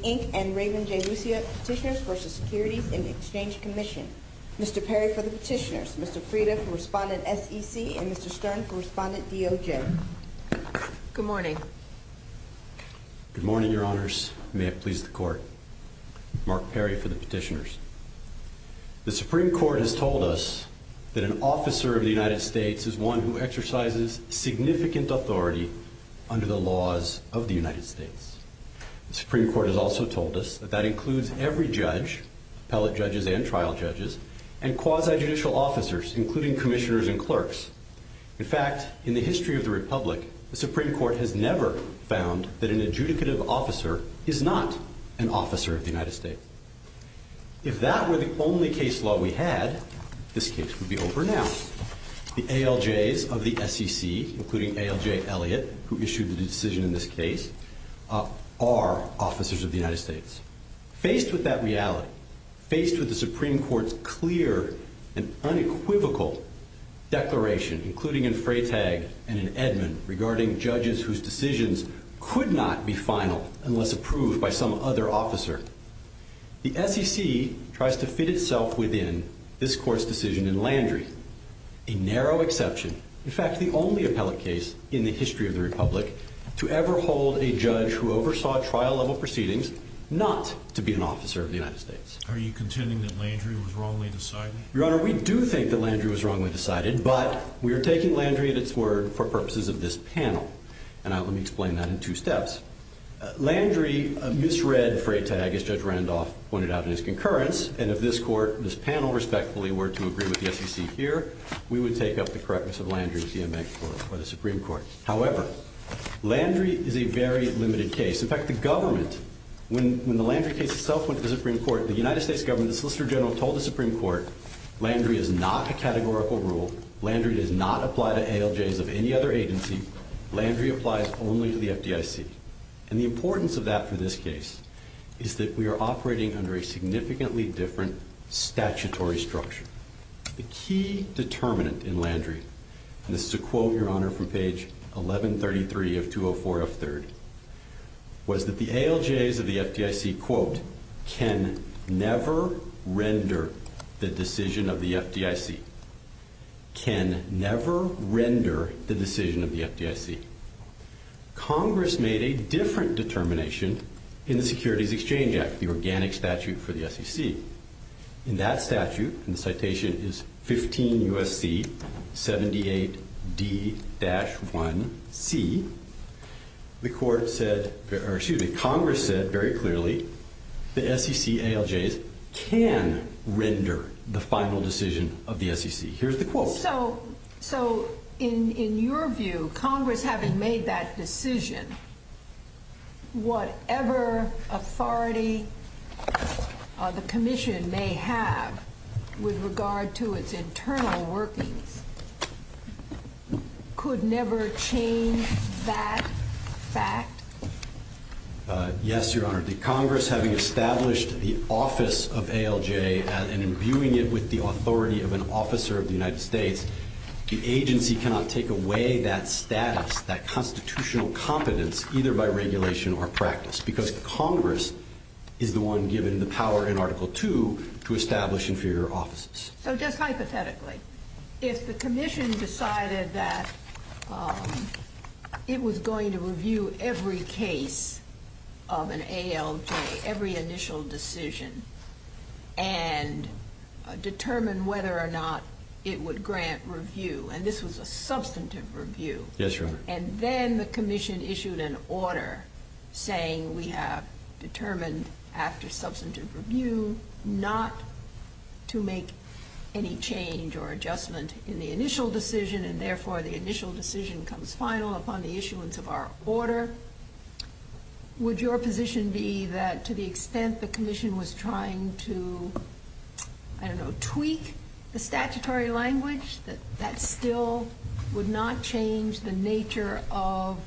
Inc. and Raven J. Lucia Petitioners v. Securities and Exchange Commission. Mr. Perry for the Petitioners, Mr. Frieda for Respondent SEC, and Mr. Stern for Respondent DOJ. Good morning. Good morning, Your Honors. May it please the Court. Mark Perry for the Petitioners. The United States is one who exercises significant authority under the laws of the United States. The Supreme Court has also told us that that includes every judge, appellate judges and trial judges, and quasi-judicial officers, including commissioners and clerks. In fact, in the history of the Republic, the Supreme Court has never found that an adjudicative officer is not an officer of the United States. If that were the only case law we had, this the ALJs of the SEC, including ALJ Elliott, who issued the decision in this case, are officers of the United States. Faced with that reality, faced with the Supreme Court's clear and unequivocal declaration, including in Freytag and in Edmund, regarding judges whose decisions could not be finaled unless approved by some other officer, the SEC tries to fit itself within this Court's decision in Landrie, a narrow exception, in fact, the only appellate case in the history of the Republic to ever hold a judge who oversaw trial-level proceedings not to be an officer of the United States. Are you contending that Landrie was wrongly decided? Your Honor, we do think that Landrie was wrongly decided, but we are taking Landrie at its word for purposes of this panel, and I will explain that in two steps. Landrie misread Freytag, as Judge Randolph pointed out in his concurrence, and if this Court, this panel, respectfully, were to agree with the SEC here, we would take up the correctness of Landrie's EMX Court by the Supreme Court. However, Landrie is a very limited case. In fact, the government, when the Landrie case itself went to the Supreme Court, the United States government, the Solicitor General told the Supreme Court, Landrie is not a categorical rule, Landrie does not apply to ALJs of any other agency, Landrie applies only to the FDIC. And the importance of that for this case is that we are operating under a significantly different statutory structure. The key determinant in Landrie, and this is a quote, Your Honor, from page 1133 of 204F3rd, was that the ALJs of the FDIC, quote, can never render the decision of the FDIC. Can never render the decision of the FDIC. Congress made a different determination in the Securities Exchange Act, the organic statute for the SEC. In that statute, and the citation is 15 U.S.C., 78D-1C, Congress said very clearly that SEC ALJs can render the final decision of the SEC. Here's the quote. So, in your view, Congress having made that decision, whatever authority the commission may have with regard to its internal working, could never change that fact? Yes, Your Honor. The Congress having established the office of ALJ and imbuing it with the agency cannot take away that status, that constitutional competence, either by regulation or practice, because Congress is the one given the power in Article II to establish inferior offices. So, just hypothetically, if the commission decided that it was going to review every case of an ALJ, every initial decision, and determine whether or not it would grant review, and this was a substantive review. Yes, Your Honor. And then the commission issued an order saying we have determined after substantive review not to make any change or adjustment in the initial decision, and therefore the initial decision comes final upon the issuance of our order. Would your position be that to the extent the commission was trying to, I don't know, tweak the statutory language, that still would not change the nature of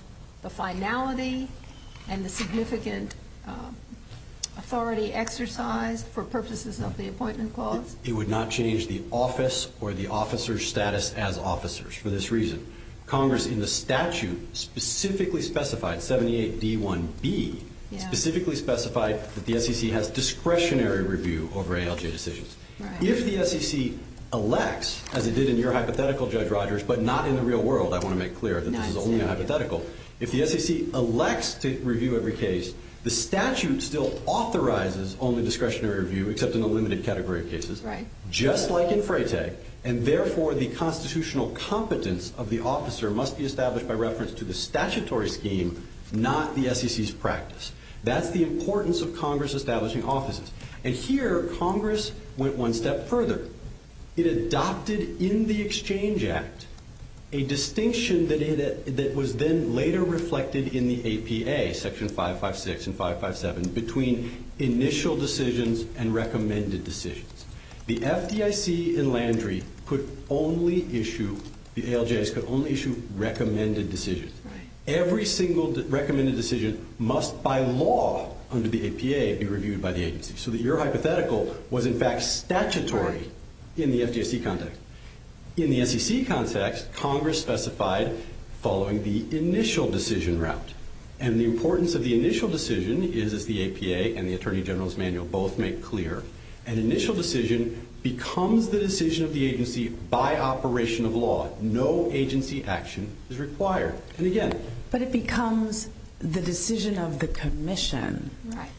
the finality and the significant authority exercise for purposes of the appointment clause? It would not change the office or the officer's status as officers for this reason. Congress in the statute specifically specified, 78D1B, specifically specified that the SEC has discretionary review over ALJ decisions. If the SEC elects, as it did in your hypothetical, Judge Rogers, but not in the real world, I want to make clear, this is only a hypothetical. If the SEC elects to review every case, the statute still authorizes only discretionary review except in the limited category of cases. Right. Just like in FRATE, and therefore the constitutional competence of the officer must be established by reference to the statutory scheme, not the SEC's practice. That's the importance of Congress establishing offices. And here Congress went one step further. It adopted in the Exchange Act a distinction that was then later reflected in the APA, Section 556 and 557, between initial decisions and recommended decisions. The FDIC and Landry could only issue, the ALJs could only issue recommended decisions. Right. Every single recommended decision must by law under the APA be reviewed by the agency so that your hypothetical was in fact statutory in the FDIC context. In the SEC context, Congress specified following the initial decision route. And the importance of the initial decision is the APA and the Attorney General's Manual both make clear. An initial decision becomes the decision of the agency by operation of law. No agency action is required. And again. But it becomes the decision of the commission. Right.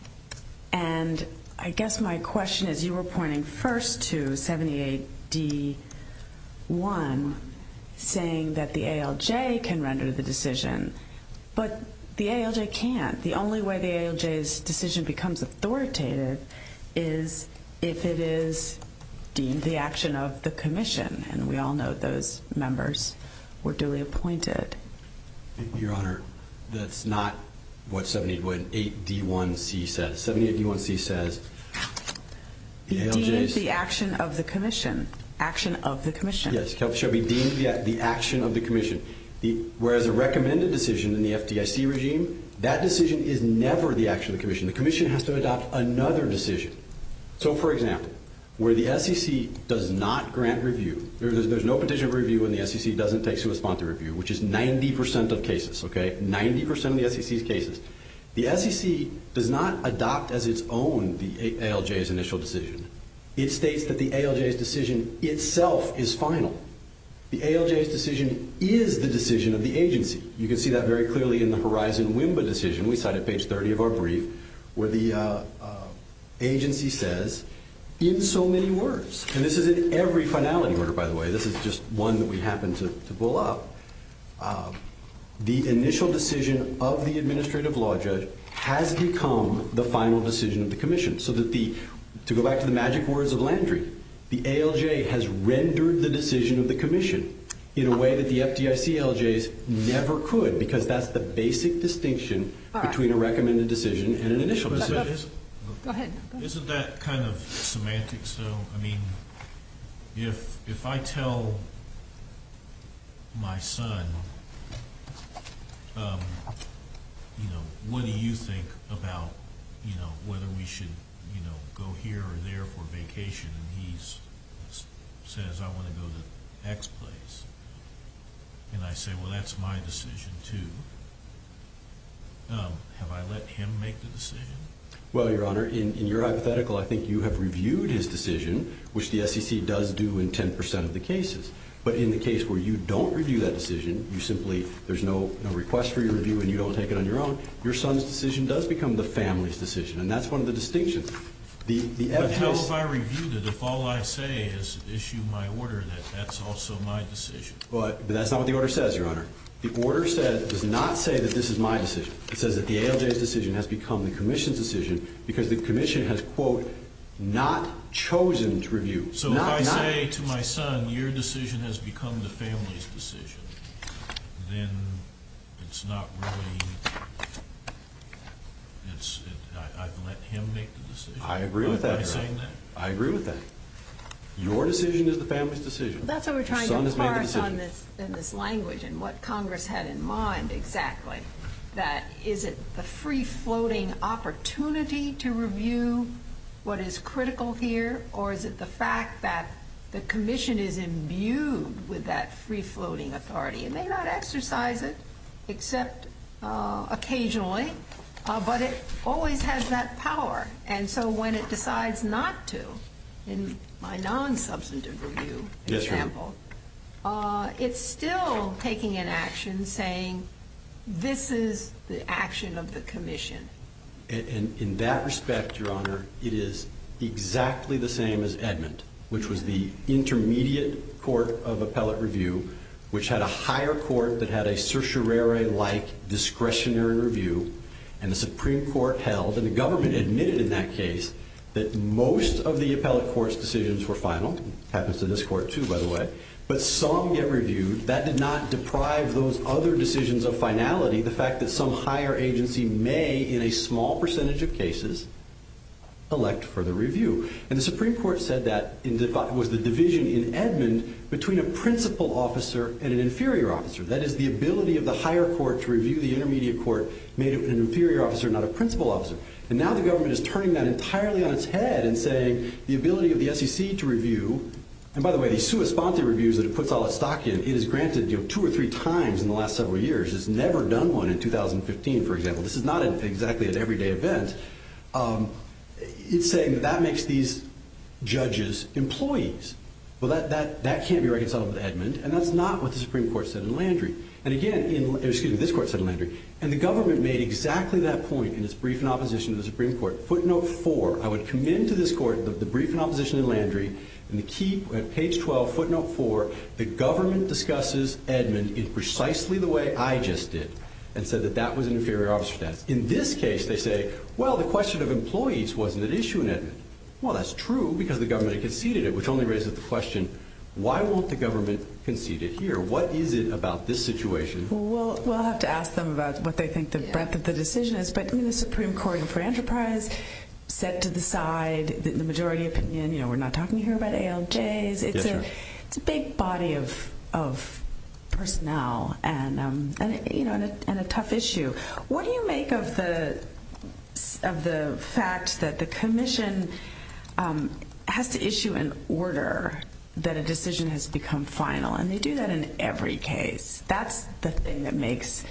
And I guess my question is, you were pointing first to 78D1 saying that the ALJ can render the decision. But the ALJ can't. The only way the ALJ's decision becomes authoritative is if it is deemed the action of the commission. And we all know those members were duly appointed. Your Honor, that's not what 78D1C says. 78D1C says the ALJ's... Deemed the action of the commission. Action of the commission. Yes. Shall be deemed the action of the commission. Whereas a recommended decision in the FDIC regime, that decision is never the action of the commission. The commission has to adopt another decision. So, for example, where the SEC does not grant review. There's no condition of review when the SEC doesn't take a response to review. Which is 90% of cases. Okay. 90% of the SEC's cases. The SEC does not adopt as its own the ALJ's initial decision. It states that the ALJ's decision itself is final. The ALJ's decision is the decision of the agency. You can see that very clearly in the Horizon WIMBA decision. We cite at page 30 of our brief. Where the agency says, in so many words. And this is in every finality order, by the way. This is just one that we happen to pull up. The initial decision of the administrative law judge has become the final decision of the commission. So, to go back to the magic words of Landry. The ALJ has rendered the decision of the commission in a way that the FDIC ALJs never could. Because that's the basic distinction between a recommended decision and an initial decision. Go ahead. Isn't that kind of semantic? So, I mean, if I tell my son, you know, what do you think about, you know, whether we should, you know, go here or there for vacation. And he says, I want to go to the next place. And I say, well, that's my decision, too. Have I let him make the decision? Well, your honor, in your hypothetical, I think you have reviewed his decision. Which the SEC does do in 10% of the cases. But in the case where you don't review that decision. You simply, there's no request for your review and you don't take it on your own. Your son's decision does become the family's decision. And that's one of the distinctions. But, you know, if I review that, if all I say is issue my order, that's also my decision. But that's not what the order says, your honor. The order does not say that this is my decision. It says that the ALJ's decision has become the commission's decision. Because the commission has, quote, not chosen to review. So, if I say to my son, your decision has become the family's decision. Then it's not really, it's, I've let him make the decision. I agree with that, your honor. I agree with that. Your decision is the family's decision. That's what we're trying to clarify in this language and what Congress had in mind, exactly. That, is it the free-floating opportunity to review what is critical here? Or is it the fact that the commission is imbued with that free-floating authority? It may not exercise it, except occasionally. But it always has that power. And so, when it decides not to, in my non-substantive review example. It's still taking an action saying, this is the action of the commission. And in that respect, your honor, it is exactly the same as Edmund. Which was the intermediate court of appellate review. Which had a higher court that had a certiorari-like discretionary review. And the Supreme Court held, and the government admitted in that case. That most of the appellate court's decisions were final. Happens to this court, too, by the way. But some get reviewed. That did not deprive those other decisions of finality. The fact that some higher agency may, in a small percentage of cases. Elect for the review. And the Supreme Court said that was the division in Edmund. Between a principal officer and an inferior officer. That is the ability of the higher court to review the intermediate court. Made it an inferior officer, not a principal officer. And now the government is turning that entirely on its head. And saying, the ability of the SEC to review. And by the way, the sui sponte reviews that it puts all its stock in. It has granted two or three times in the last several years. It's never done one in 2015, for example. This is not exactly an everyday event. It's saying that that makes these judges employees. Well, that can't be right with Edmund. And that's not what the Supreme Court said in Landry. And again, excuse me, this court said in Landry. And the government made exactly that point in its brief in opposition to the Supreme Court. Footnote 4. I would commend to this court that the brief in opposition in Landry. And the key, page 12, footnote 4. The government discusses Edmund in precisely the way I just did. And said that that was an inferior officer. In this case, they say, well, the question of employees wasn't an issue in Edmund. Well, that's true because the government conceded it. Which only raises the question, why won't the government concede it here? What is it about this situation? Well, we'll have to ask them about what they think the breadth of the decision is. But, I mean, the Supreme Court in Fair Enterprise said to the side, the majority opinion, you know, we're not talking here about ALJs. It's a big body of personnel and a tough issue. What do you make of the fact that the commission has to issue an order that a decision has become final? And they do that in every case. That's the thing that makes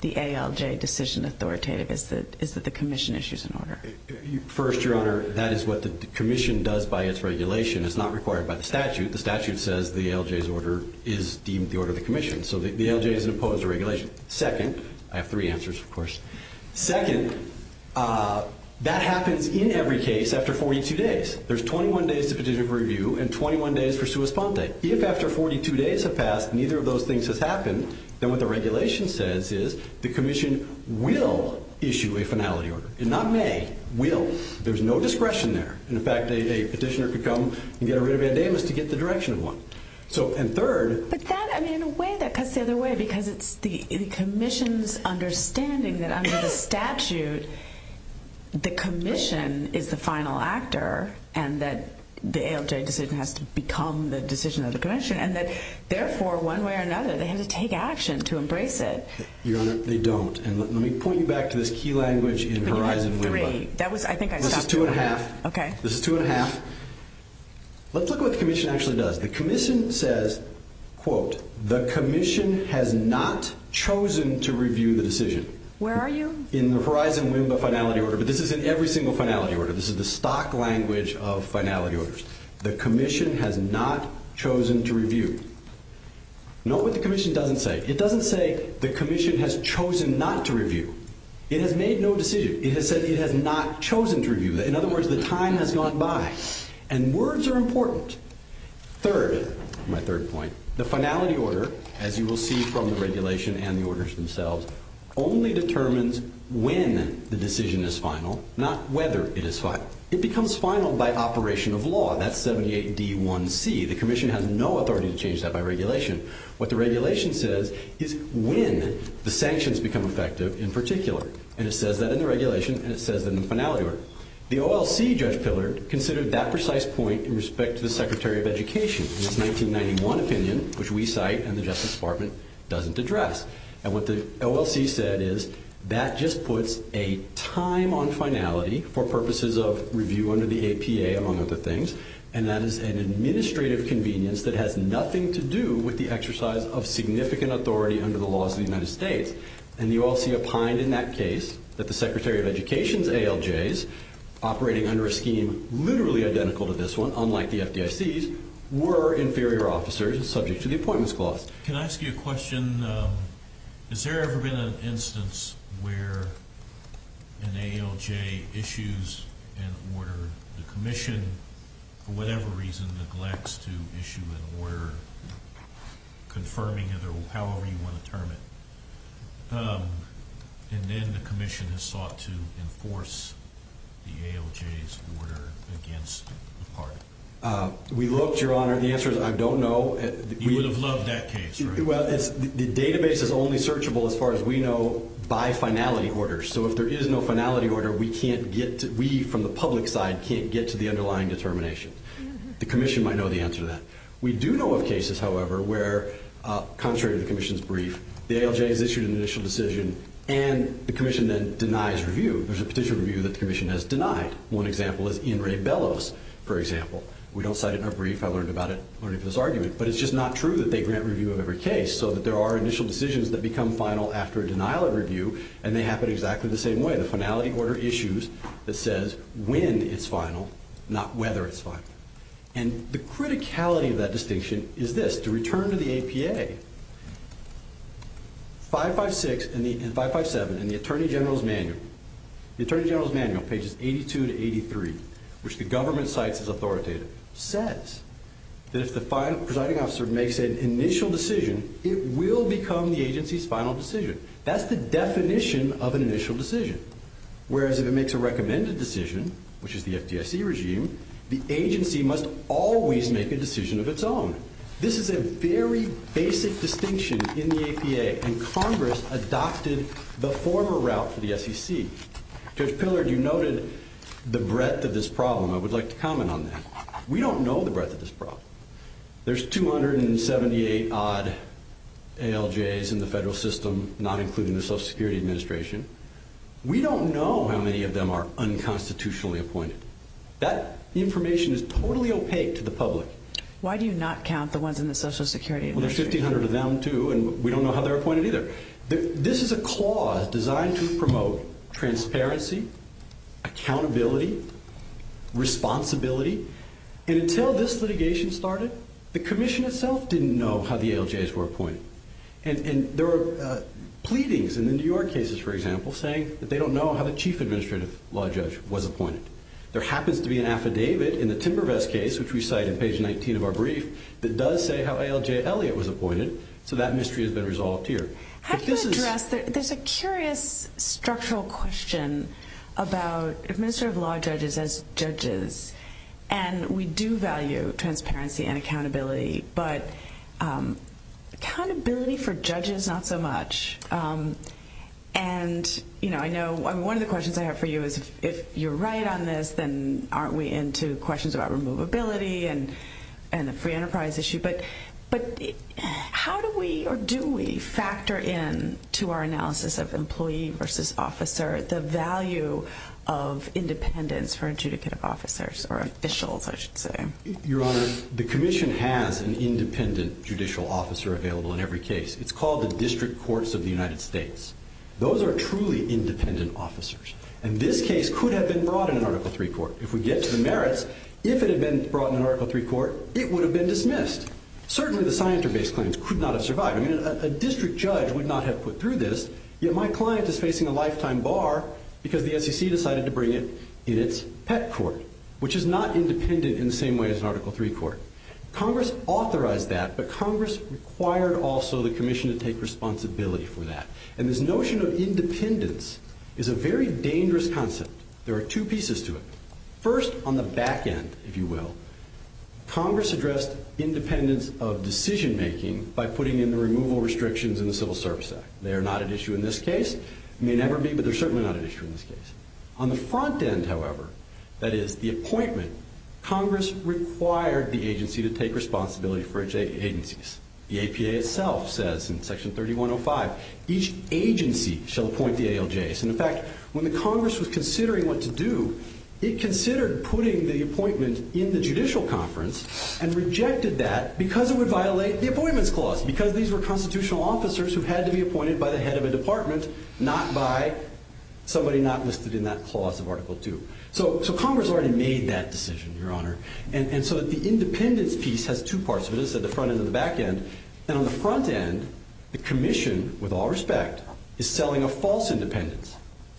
the ALJ decision authoritative is that the commission issues an order. First, Your Honor, that is what the commission does by its regulation. It's not required by the statute. The statute says the ALJ's order is deemed the order of the commission. So the ALJ has imposed a regulation. Second, I have three answers, of course. Second, that happens in every case after 42 days. There's 21 days to petition for review and 21 days for sua sponte. If after 42 days have passed, neither of those things has happened, then what the regulation says is the commission will issue a finality order. And not may. Will. There's no discretion there. In fact, a petitioner could come and get a writ of bandanas to get the direction of one. So, and third. But that, I mean, in a way that cuts the other way because it's the commission's understanding that under the statute, the commission is the final actor and that the ALJ decision has to become the decision of the commission and that, therefore, one way or another, they have to take action to embrace it. Your Honor, they don't. And let me point you back to this key language in Horizon. This is two and a half. Okay. This is two and a half. Let's look at what the commission actually does. The commission says, quote, the commission has not chosen to review the decision. Where are you? In the Horizon window finality order. But this is in every single finality order. This is the stock language of finality orders. The commission has not chosen to review. Note what the commission doesn't say. It doesn't say the commission has chosen not to review. It has made no decision. It has said it has not chosen to review. In other words, the time has gone by. And words are important. Third, my third point, the finality order, as you will see from the regulation and the orders themselves, only determines when the decision is final, not whether it is final. It becomes final by operation of law. That's 78D1C. The commission has no authority to change that by regulation. What the regulation says is when the sanctions become effective in particular. And it says that in the regulation. And it says that in the finality order. The OLC, Judge Filler, considered that precise point in respect to the Secretary of Education. This 1991 opinion, which we cite and the Justice Department doesn't address. And what the OLC said is, that just puts a time on finality for purposes of review under the APA, among other things. And that is an administrative convenience that has nothing to do with the exercise of significant authority under the laws of the United States. And the OLC opined in that case that the Secretary of Education's ALJs, operating under a scheme literally identical to this one, unlike the FDIC's, were inferior officers subject to the Appointments Clause. Can I ask you a question? Has there ever been an instance where an ALJ issues an order, the commission, for whatever reason, neglects to issue an order confirming it, or however you want to term it. And then the commission has sought to enforce the ALJ's order against the party. We've looked, Your Honor. The answer is, I don't know. You would have loved that case, right? The database is only searchable, as far as we know, by finality order. So if there is no finality order, we, from the public side, can't get to the underlying determination. The commission might know the answer to that. We do know of cases, however, where, contrary to the commission's brief, the ALJ has issued an initial decision and the commission then denies review. There's a particular review that the commission has denied. One example is Ian Ray Bellows, for example. We don't cite it in our brief. I learned about it learning from this argument. But it's just not true that they grant review of every case, so that there are initial decisions that become final after a denial of review, and they happen exactly the same way. The finality order issues that says when it's final, not whether it's final. And the criticality of that distinction is this. To return to the APA, 556 and 557 in the Attorney General's Manual, the Attorney General's Manual, pages 82 to 83, which the government cites as authoritative, says that if the presiding officer makes an initial decision, it will become the agency's final decision. That's the definition of an initial decision. Whereas if it makes a recommended decision, which is the FDIC regime, the agency must always make a decision of its own. This is a very basic distinction in the APA, and Congress adopted the former route for the FCC. Judge Pillard, you noted the breadth of this problem. I would like to comment on that. We don't know the breadth of this problem. There's 278-odd NLJs in the federal system, not including the Social Security Administration. We don't know how many of them are unconstitutionally appointed. That information is totally opaque to the public. Why do you not count the ones in the Social Security Administration? Well, there's 1,500 of them too, and we don't know how they're appointed either. This is a clause designed to promote transparency, accountability, responsibility, and until this litigation started, the Commission itself didn't know how the ALJs were appointed. And there are pleadings in the New York cases, for example, saying that they don't know how a Chief Administrative Law Judge was appointed. There happens to be an affidavit in the Timbervest case, which we cite on page 19 of our brief, that does say how ALJ Elliott was appointed, so that mystery has been resolved here. There's a curious structural question about Administrative Law Judges as judges, and we do value transparency and accountability, but accountability for judges, not so much. And, you know, I know one of the questions I have for you is if you're right on this, then aren't we into questions about removability and the free enterprise issue? But how do we, or do we, factor in to our analysis of employee versus officer the value of independence for judicative officers or officials, I should say? Your Honor, the Commission has an independent judicial officer available in every case. It's called the District Courts of the United States. Those are truly independent officers, and this case could have been brought in Article III court. If we get to the merits, if it had been brought in Article III court, it would have been dismissed. Certainly, the science-based claims could not have survived. I mean, a district judge would not have put through this, yet my client is facing a lifetime bar because the SEC decided to bring it in its pet court, which is not independent in the same way as Article III court. Congress authorized that, but Congress required also the Commission to take responsibility for that. And this notion of independence is a very dangerous concept. There are two pieces to it. First, on the back end, if you will, Congress addressed independence of decision-making by putting in the removal restrictions in the Civil Service Act. They are not an issue in this case. They may never be, but they're certainly not an issue in this case. On the front end, however, that is the appointment, Congress required the agency to take responsibility for its agencies. The APA itself says in Section 3105, each agency shall appoint the ALJs. In fact, when the Congress was considering what to do, it considered putting the appointment in the judicial conference and rejected that because it would violate the Appointments Clause, because these were constitutional officers who had to be appointed by the head of a department, not by somebody not listed in that clause of Article II. So Congress already made that decision, Your Honor. And so the independence piece has two parts to it. This is the front end and the back end. And on the front end, the Commission, with all respect, is selling a false independence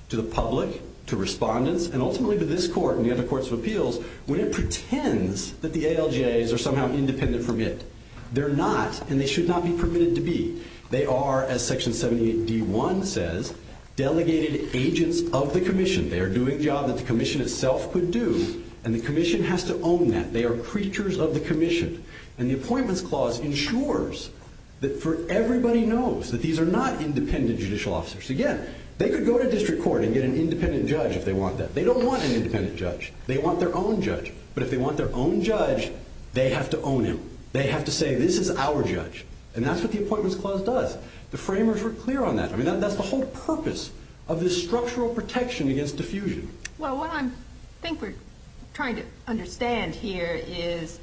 to the public, to respondents, and ultimately to this Court and the other courts of appeals when it pretends that the ALJs are somehow an independent permit. They're not, and they should not be permitted to be. They are, as Section 78D1 says, delegated agents of the Commission. They are doing jobs that the Commission itself could do, and the Commission has to own that. They are creatures of the Commission. And the Appointments Clause ensures that everybody knows that these are not independent judicial officers. Again, they could go to district court and get an independent judge if they want that. They don't want an independent judge. They want their own judge. But if they want their own judge, they have to own it. They have to say, this is our judge. And that's what the Appointments Clause does. The framers were clear on that. I mean, that's the whole purpose of this structural protection against diffusion. Well, what I think we're trying to understand here is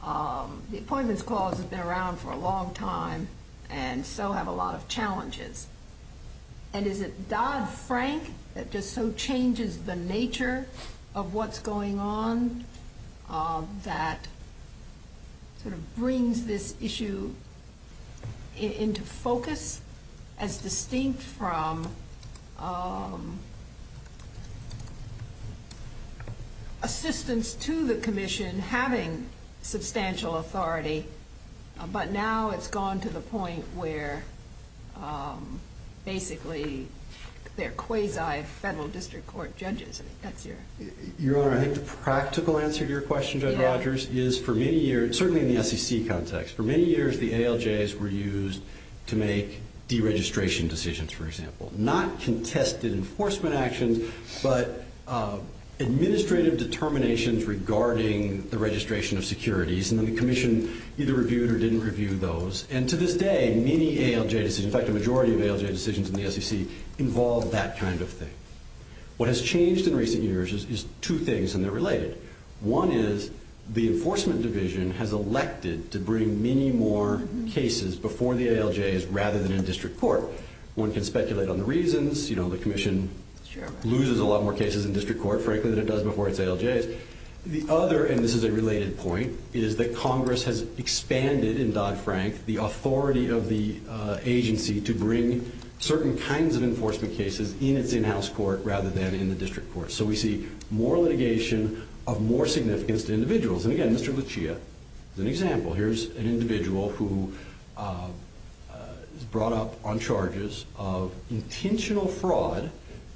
the Appointments Clause has been around for a long time and so have a lot of challenges. And is it Dodd-Frank that just so changes the nature of what's going on that sort of brings this issue into focus as distinct from assistance to the Commission having substantial authority, but now it's gone to the point where basically they're quasi-federal district court judges. Your practical answer to your question, Judge Rogers, is for many years, certainly in the SEC context, for many years the ALJs were used to make deregistration decisions, for example. Not contested enforcement actions, but administrative determinations regarding the registration of securities. And the Commission either reviewed or didn't review those. And to this day, many ALJs, in fact, the majority of ALJ decisions in the SEC involve that kind of thing. What has changed in recent years is two things, and they're related. One is the Enforcement Division has elected to bring many more cases before the ALJs rather than in district court. One can speculate on the reasons. You know, the Commission loses a lot more cases in district court, frankly, than it does before its ALJs. The other, and this is a related point, is that Congress has expanded, in Dodd-Frank, the authority of the agency to bring certain kinds of enforcement cases in its in-house court rather than in the district court. So we see more litigation of more significance to individuals. And again, Mr. Lucia is an example. Here's an individual who is brought up on charges of intentional fraud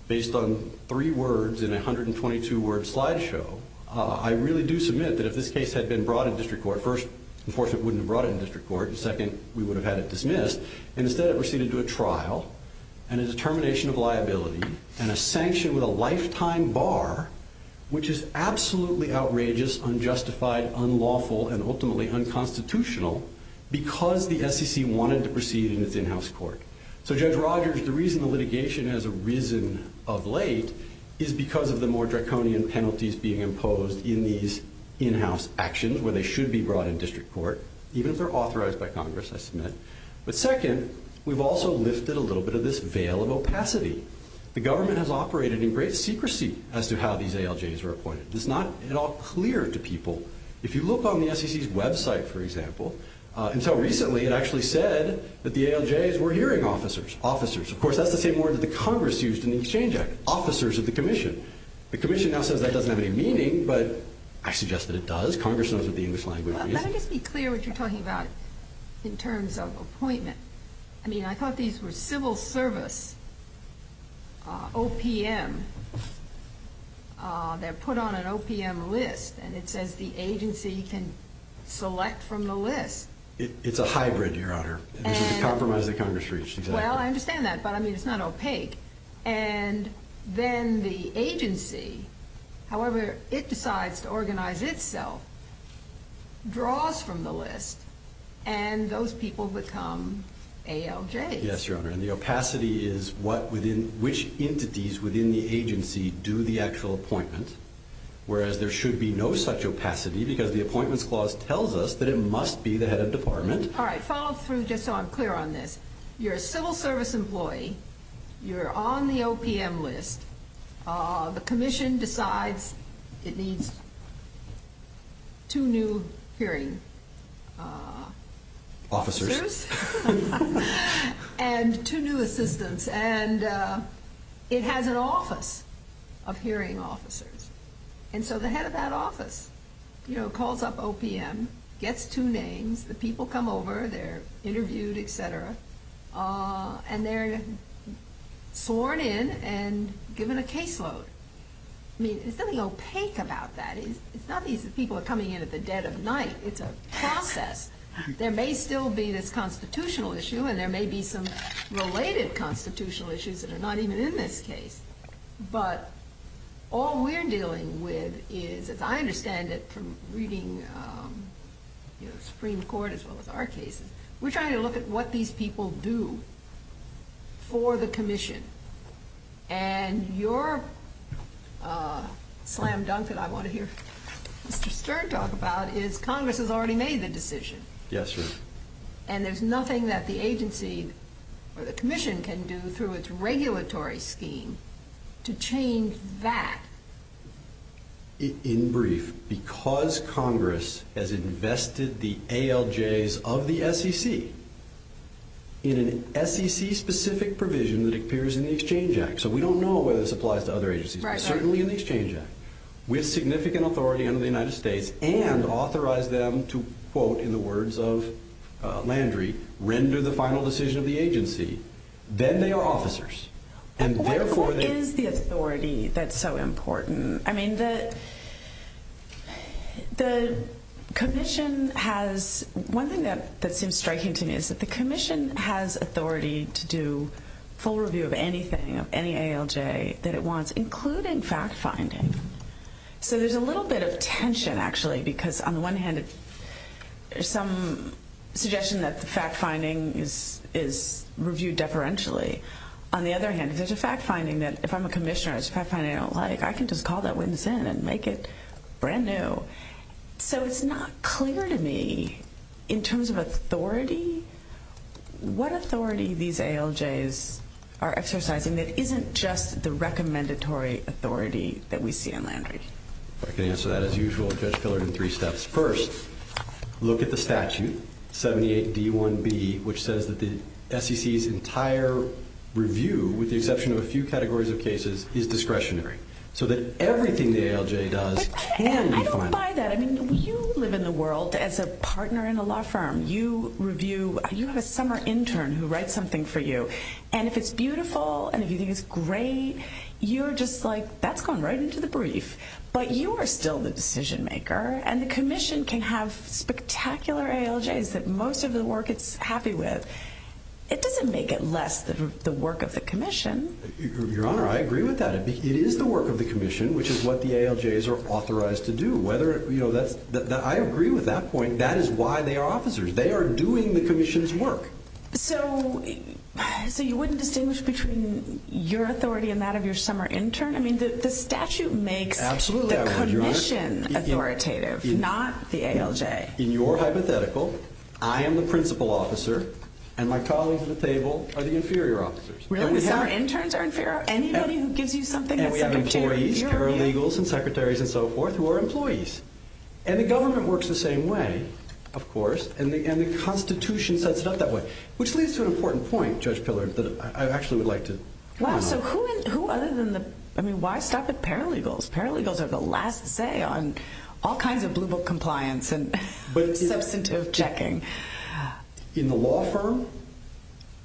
based on three words in a 122-word slide show. I really do submit that if this case had been brought in district court, first, enforcement wouldn't have brought it in district court. Second, we would have had it dismissed. And instead, it receded to a trial and is a termination of liability and a sanction with a lifetime bar, which is absolutely outrageous, unjustified, unlawful, and ultimately unconstitutional because the SEC wanted to proceed in its in-house court. So Judge Rogers, the reason the litigation has arisen of late is because of the more draconian penalties being imposed in these in-house actions, where they should be brought in district court, even if they're authorized by Congress, I submit. But second, we've also lifted a little bit of this veil of opacity. The government has operated in great secrecy as to how these ALJs are appointed. It's not at all clear to people. If you look on the SEC's website, for example, until recently, it actually said that the ALJs were hearing officers. Of course, that's the same word that the Congress used in the Exchange Act, officers of the commission. The commission now says that doesn't have any meaning, but I suggest that it does. Congress knows what the English language is. Can I just be clear what you're talking about in terms of appointment? I mean, I thought these were civil service OPM. They're put on an OPM list, and it says the agency can select from the list. It's a hybrid, Your Honor. It's a compromise that Congress reached. Well, I understand that, but, I mean, it's not opaque. And then the agency, however it decides to organize itself, draws from the list, and those people become ALJs. Yes, Your Honor, and the opacity is which entities within the agency do the actual appointments, whereas there should be no such opacity because the appointments clause tells us that it must be the head of department. All right, follow through just so I'm clear on this. You're a civil service employee. You're on the OPM list. The commission decides it needs two new hearing assistants and it has an office of hearing officers. And so the head of that office, you know, calls up OPM, gets two names. The people come over. They're interviewed, et cetera, and they're sworn in and given a caseload. I mean, there's nothing opaque about that. It's not these people are coming in at the dead of night. It's a process. There may still be this constitutional issue, and there may be some related constitutional issues that are not even in this case. But all we're dealing with is, as I understand it from reading, you know, Supreme Court as well as our cases, we're trying to look at what these people do for the commission. And your slam dunk that I want to hear Mr. Stern talk about is Congress has already made the decision. Yes, Your Honor. And there's nothing that the agency commission can do through its regulatory scheme to change that. In brief, because Congress has invested the ALJs of the SEC in an SEC-specific provision that appears in the Exchange Act, so we don't know whether this applies to other agencies, but certainly in the Exchange Act, with significant authority under the United States and authorize them to, quote, in the words of Landry, render the final decision of the agency, then they are officers. And therefore, they're- What is the authority that's so important? I mean, the commission has-one thing that seems striking to me is that the commission has authority to do full review of anything, of any ALJ that it wants, including fact-finding. So there's a little bit of tension, actually, because on the one hand, there's some suggestion that the fact-finding is reviewed deferentially. On the other hand, if there's a fact-finding that, if I'm a commissioner, it's a fact-finding I don't like, I can just call that witness in and make it brand new. So it's not clear to me, in terms of authority, what authority these ALJs are exercising that isn't just the recommendatory authority that we see in Landry. Okay, and so that, as usual, is best colored in three steps. First, look at the statute, 78D1B, which says that the SEC's entire review, with the exception of a few categories of cases, is discretionary, so that everything the ALJ does can be final. I don't buy that. I mean, you live in the world as a partner in a law firm. You review, you have a summer intern who writes something for you, and if it's beautiful and if you think it's great, you're just like, that's gone right into the brief. But you are still the decision-maker, and the commission can have spectacular ALJs that most of the work it's happy with. It doesn't make it less the work of the commission. Your Honor, I agree with that. It is the work of the commission, which is what the ALJs are authorized to do. I agree with that point. That is why they are officers. They are doing the commission's work. So you wouldn't distinguish between your authority and that of your summer intern? I mean, the statute makes the commission authoritative, not the ALJ. In your hypothetical, I am the principal officer, and my colleagues at the table are the inferior officers. Really? Your summer interns are inferior? Anybody who gives you something that's inferior? And we have employees, paralegals and secretaries and so forth who are employees. And the government works the same way, of course, and the Constitution sets it up that way, which leads to an important point, Judge Pillard, that I actually would like to comment on. Wow, so who other than the – I mean, why stop at paralegals? Paralegals are the last say on all kinds of blue book compliance and substantive checking. In the law firm,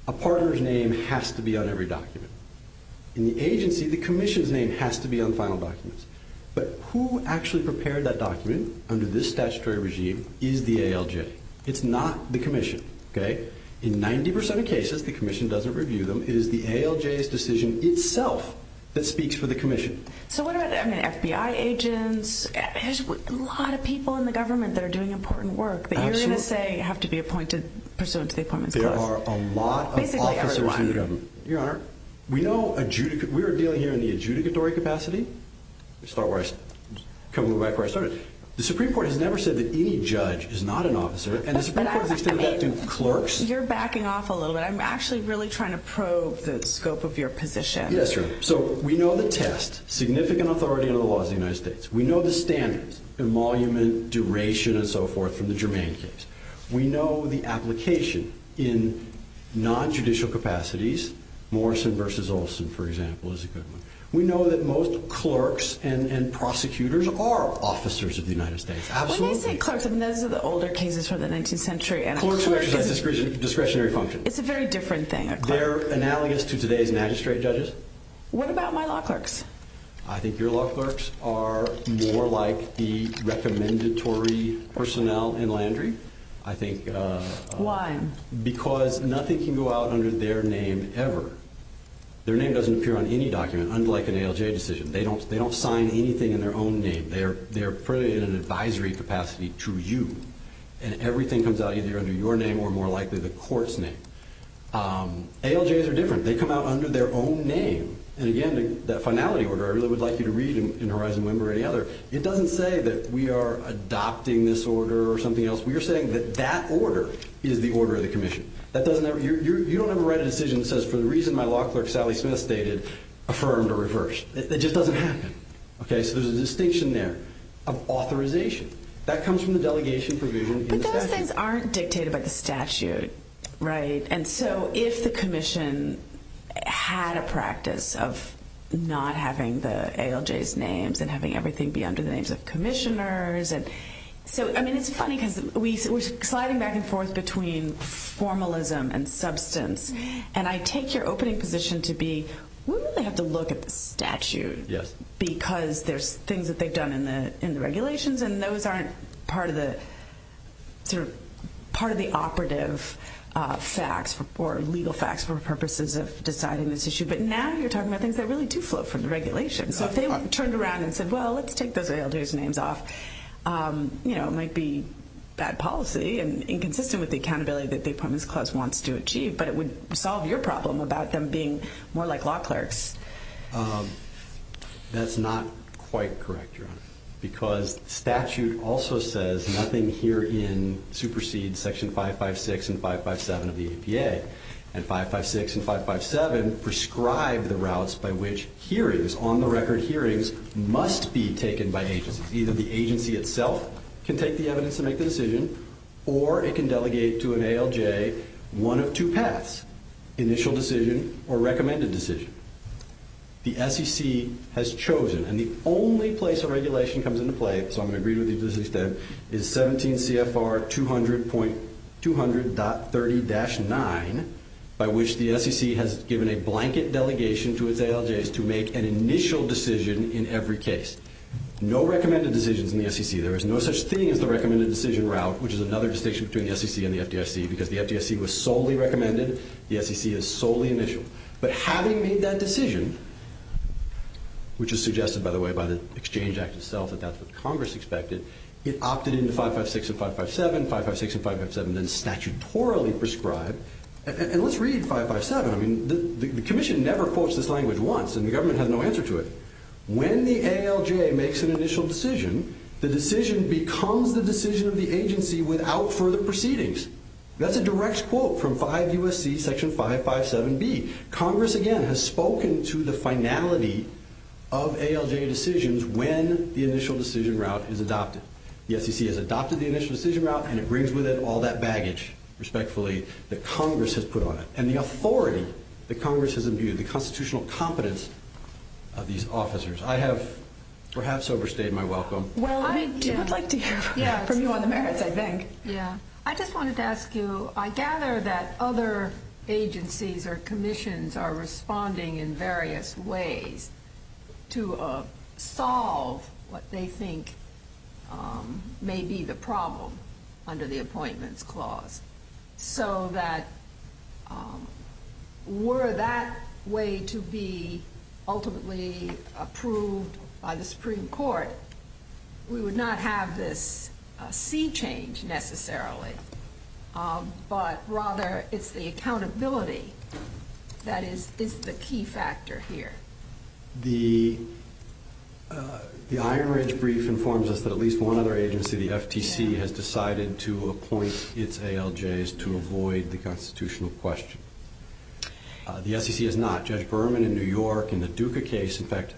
a partner's name has to be on every document. In the agency, the commission's name has to be on final documents. But who actually prepared that document under this statutory regime is the ALJ. It's not the commission. In 90% of cases, the commission doesn't review them. It is the ALJ's decision itself that speaks for the commission. So what about FBI agents? There's a lot of people in the government that are doing important work. But you're going to say you have to be presumed to be appointed clerk. There are a lot of officers in the government. Your Honor, we are dealing here in the adjudicatory capacity. Can we go back to where I started? The Supreme Court has never said that any judge is not an officer. And the Supreme Court has said that to clerks. You're backing off a little bit. I'm actually really trying to probe the scope of your position. Yes, Your Honor. So we know the test. Significant authority in the laws of the United States. We know the standards. Emolument, duration, and so forth in the Germain case. We know the application in non-judicial capacities. Morrison v. Olson, for example, is a good one. We know that most clerks and prosecutors are officers of the United States. Absolutely. When you say clerks, I mean those are the older cases from the 19th century. Clerks have discretionary functions. It's a very different thing. They're an alias to today's magistrate judges. What about my law clerks? I think your law clerks are more like the recommendatory personnel in Landry. Why? Because nothing can go out under their name ever. Their name doesn't appear on any document, unlike an ALJ decision. They don't sign anything in their own name. They're fairly in an advisory capacity to you. And everything comes out either under your name or more likely the court's name. ALJs are different. They come out under their own name. And, again, that finality order, I really would like you to read in Horizon One or any other, it doesn't say that we are adopting this order or something else. We are saying that that order is the order of the commission. You don't have to write a decision that says, for the reason my law clerk, Sally Smith, stated, affirmed or reversed. It just doesn't happen. So there's a distinction there of authorization. That comes from the delegation provision in the statute. But those things aren't dictated by the statute, right? And so if the commission had a practice of not having the ALJs' names and having everything be under the names of commissioners. I mean, it's funny because we're sliding back and forth between formalism and substance. And I take your opening position to be, we don't have to look at the statute because there's things that they've done in the regulations, and those aren't part of the operative facts or legal facts for purposes of deciding this issue. But now you're talking about things that really do flow from the regulations. So if they turned around and said, well, let's take those ALJs' names off, you know, it might be bad policy and inconsistent with the accountability that the Appointments Clause wants to achieve, but it would solve your problem about them being more like law clerks. That's not quite correct, John, because statute also says nothing herein supersedes Section 556 and 557 of the ADA. And 556 and 557 prescribe the routes by which hearings, on-the-record hearings, must be taken by agencies. Either the agency itself can take the evidence and make the decision, or it can delegate to an ALJ one of two paths, initial decision or recommended decision. The SEC has chosen, and the only place a regulation comes into play, so I'm going to agree with you to this extent, is 17 CFR 200.30-9, by which the SEC has given a blanket delegation to its ALJs to make an initial decision in every case. No recommended decisions in the SEC. There is no such thing as a recommended decision route, which is another distinction between the SEC and the FDIC, because the FDIC was solely recommended. The SEC is solely initial. But having made that decision, which is suggested, by the way, by the Exchange Act itself, that that's what Congress expected, it opted into 556 and 557, 556 and 557 then statutorily prescribed. And let's read 557. I mean, the Commission never quotes this language once, and the government has no answer to it. When the ALJ makes an initial decision, the decision becomes the decision of the agency without further proceedings. That's a direct quote from 5 U.S.C. section 557B. Congress, again, has spoken to the finality of ALJ decisions when the initial decision route is adopted. The SEC has adopted the initial decision route and it brings with it all that baggage, respectfully, that Congress has put on it and the authority that Congress has imbued, the constitutional competence of these officers. I have perhaps overstayed my welcome. I would like to hear from you on the merits, I think. Yeah. I just wanted to ask you, I gather that other agencies or commissions are responding in various ways to solve what they think may be the problem under the Appointments Clause, so that were that way to be ultimately approved by the Supreme Court, we would not have this fee change necessarily, but rather it's the accountability that is the key factor here. The IRS brief informs us that at least one other agency, the FTC, has decided to appoint its ALJs to avoid the constitutional question. The FTC has not. Judge Berman in New York in the Duca case, in fact,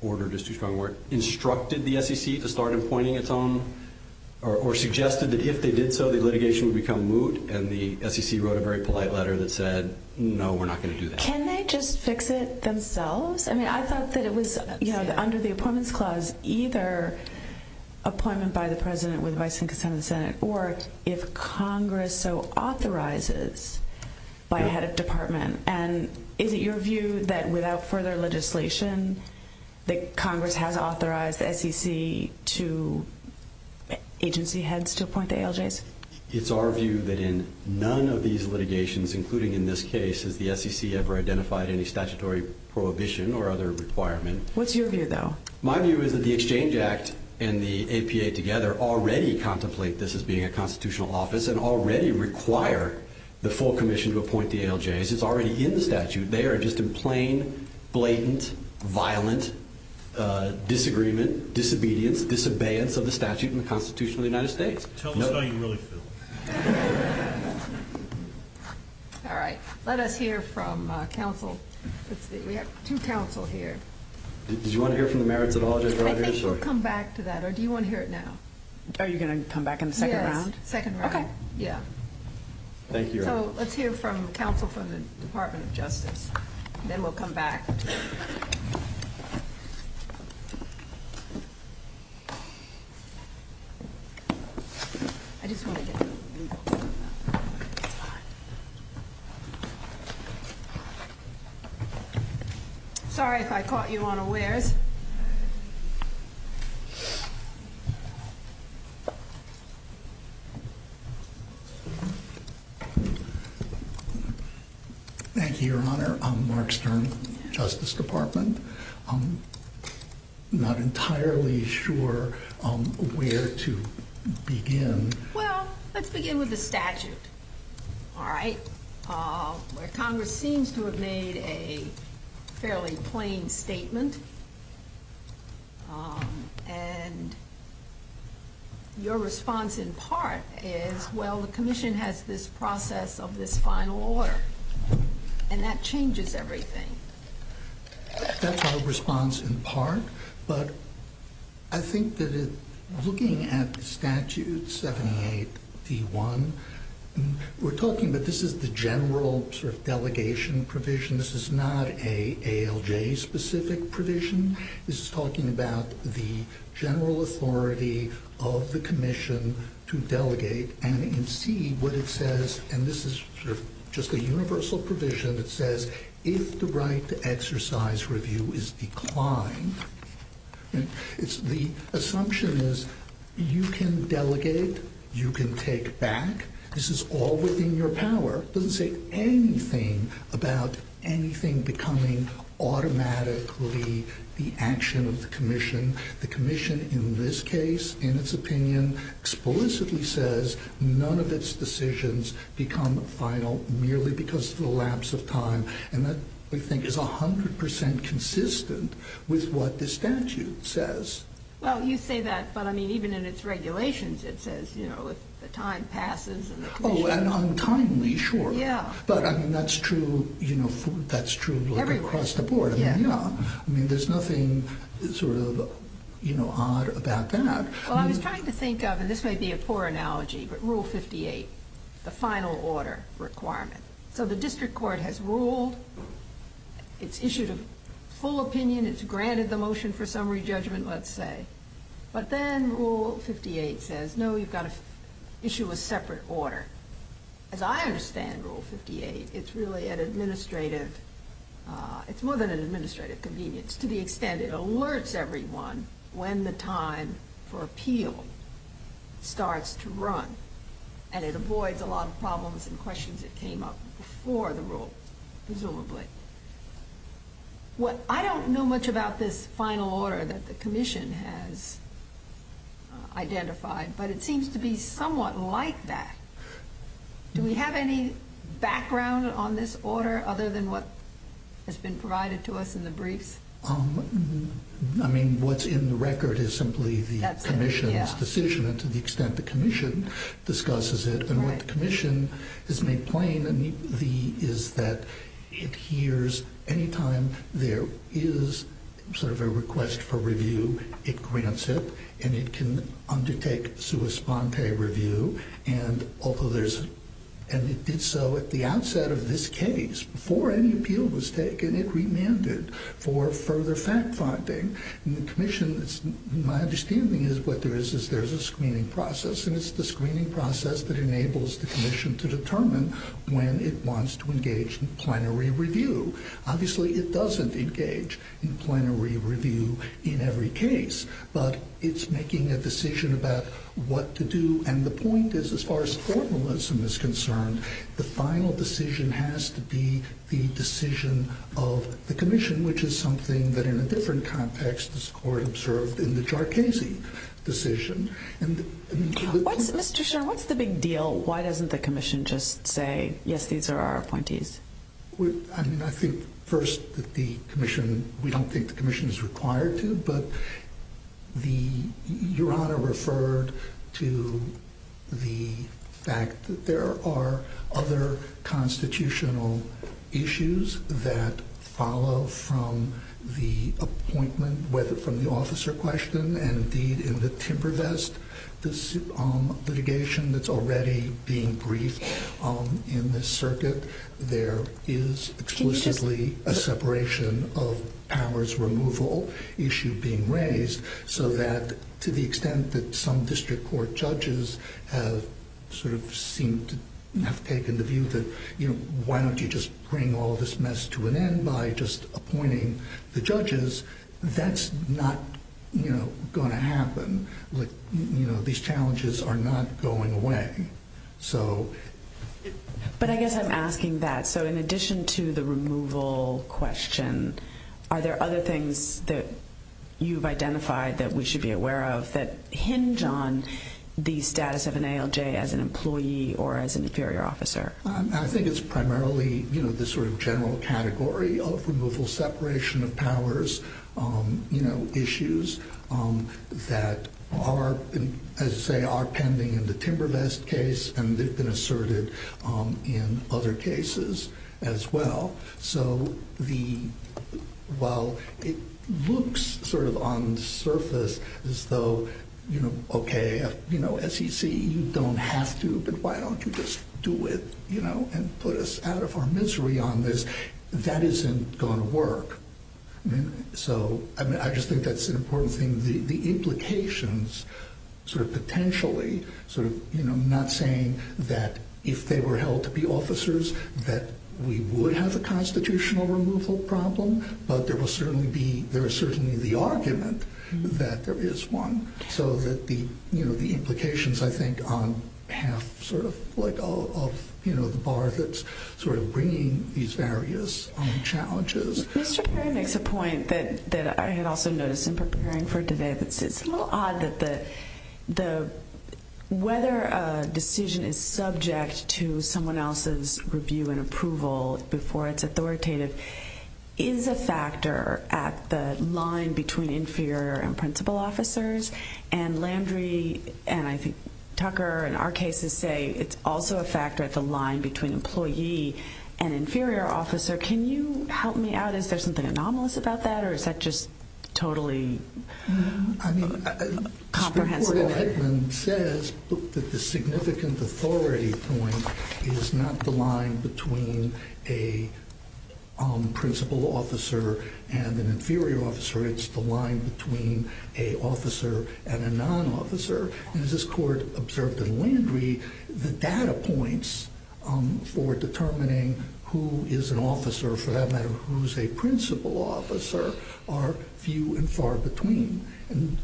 order just to try and work, instructed the SEC to start appointing its own or suggested that if they did so, the litigation would become moot, and the SEC wrote a very polite letter that said, no, we're not going to do that. Can they just fix it themselves? I mean, I thought that it was, you know, under the Appointments Clause either appointment by the President with Vice and Consent of the Senate or if Congress so authorizes by a head of department. And is it your view that without further legislation, that Congress has authorized SEC to agency heads to appoint ALJs? It's our view that in none of these litigations, including in this case, has the SEC ever identified any statutory prohibition or other requirement. What's your view, though? My view is that the Exchange Act and the APA together already contemplate this as being a constitutional office and already require the full commission to appoint the ALJs. This is already in the statute. They are just in plain, blatant, violent disagreement, disobedience, disobeyance of the statute and Constitution of the United States. Sounds like a really good one. All right. Let us hear from counsel. We have two counsel here. Do you want to hear from the merits at all? Come back to that or do you want to hear it now? Are you going to come back in the second round? Yes, second round. Okay. Yeah. Thank you. Let's hear from counsel from the Department of Justice. Then we'll come back. Sorry if I caught you unaware. Thank you, Your Honor. I'm Mark Stern, Justice Department. I'm not entirely sure where to begin. Well, let's begin with the statute, all right, where Congress seems to have made a fairly plain statement. And your response in part is, well, the commission has this process of this final order. And that changes everything. That's our response in part. But I think that it's looking at the statute, 78D1, we're talking that this is the general sort of delegation provision. This is not an ALJ-specific provision. This is talking about the general authority of the commission to delegate and see what it says. And this is just a universal provision that says, if the right to exercise review is declined, the assumption is you can delegate, you can take back. This is all within your power. It doesn't say anything about anything becoming automatically the action of the commission. The commission in this case, in its opinion, explicitly says none of its decisions become final merely because of the lapse of time. And that, we think, is 100% consistent with what the statute says. Well, you say that, but, I mean, even in its regulations, it says, you know, the time passes. Oh, and untimely, sure. Yeah. But, I mean, that's true, you know, that's true across the board. Yeah. I mean, there's nothing sort of, you know, odd about that. Well, I've been trying to think of, and this may be a poor analogy, but Rule 58, the final order requirement. So the district court has ruled, it's issued a full opinion, it's granted the motion for summary judgment, let's say. But then Rule 58 says, no, you've got to issue a separate order. As I understand Rule 58, it's really an administrative, it's more than an administrative convenience. To the extent it alerts everyone when the time for appeal starts to run. And it avoids a lot of problems and questions that came up before the rule, presumably. Well, I don't know much about this final order that the commission has identified, but it seems to be somewhat like that. Do we have any background on this order, other than what has been provided to us in the brief? I mean, what's in the record is simply the commission's decision, to the extent the commission discusses it. And what the commission has made plain is that it hears any time there is sort of a request for review, it grants it, and it can undertake sui sponte review. And so at the outset of this case, before any appeal was taken, it remanded for further fact-finding. And the commission, my understanding is, what there is is there's a screening process, and it's the screening process that enables the commission to determine when it wants to engage in plenary review. Obviously, it doesn't engage in plenary review in every case, but it's making a decision about what to do. And the point is, as far as formalism is concerned, the final decision has to be the decision of the commission, which is something that in a different context the court observed in the What's the big deal? Why doesn't the commission just say, yes, these are our appointees? I mean, I think, first, that the commission, we don't think the commission is required to, but Johanna referred to the fact that there are other constitutional issues that follow from the appointment, whether from the officer question, and indeed in the timber vest litigation that's already being briefed in the circuit, there is exclusively a separation of powers removal issue being raised so that to the extent that some district court judges have sort of seemed to have taken the view that, you know, why don't you just bring all this mess to an end by just appointing the going to happen, you know, these challenges are not going away. But I guess I'm asking that. So in addition to the removal question, are there other things that you've identified that we should be aware of that hinge on the status of an ALJ as an employee or as an inferior officer? I think it's primarily, you know, the sort of general category of removal separation of powers, you know, issues that are, as I say, are pending in the timber vest case, and they've been asserted in other cases as well. So while it looks sort of on the surface as though, you know, okay, you know, SEC, you don't have to, but why don't you just do it, you know, and put us out of our misery on this? That isn't going to work. So I just think that's an important thing. The implications sort of potentially sort of, you know, not saying that if they were held to be officers that we would have a constitutional removal problem, but there will certainly be, there is certainly the argument that there is one. So that the, you know, the implications, I think, have sort of like all of, you know, the bar that's sort of bringing these various challenges. Mr. Perry makes a point that I had also noticed in preparing for today. It's a little odd that the, whether a decision is subject to someone else's review and approval before it's authoritative is a factor at the line between inferior and principal officers, and Landry, and I think Tucker, and our cases say it's also a factor at the line between employee and inferior officer. Can you help me out if there's something anomalous about that, or is that just totally comprehensive? I mean, it says that the significant authority point is not the line between a principal officer and an inferior officer. It's the line between a officer and a non-officer. And as this court observed in Landry, the data points for determining who is an officer, for that matter, who's a principal officer are few and far between. I mean,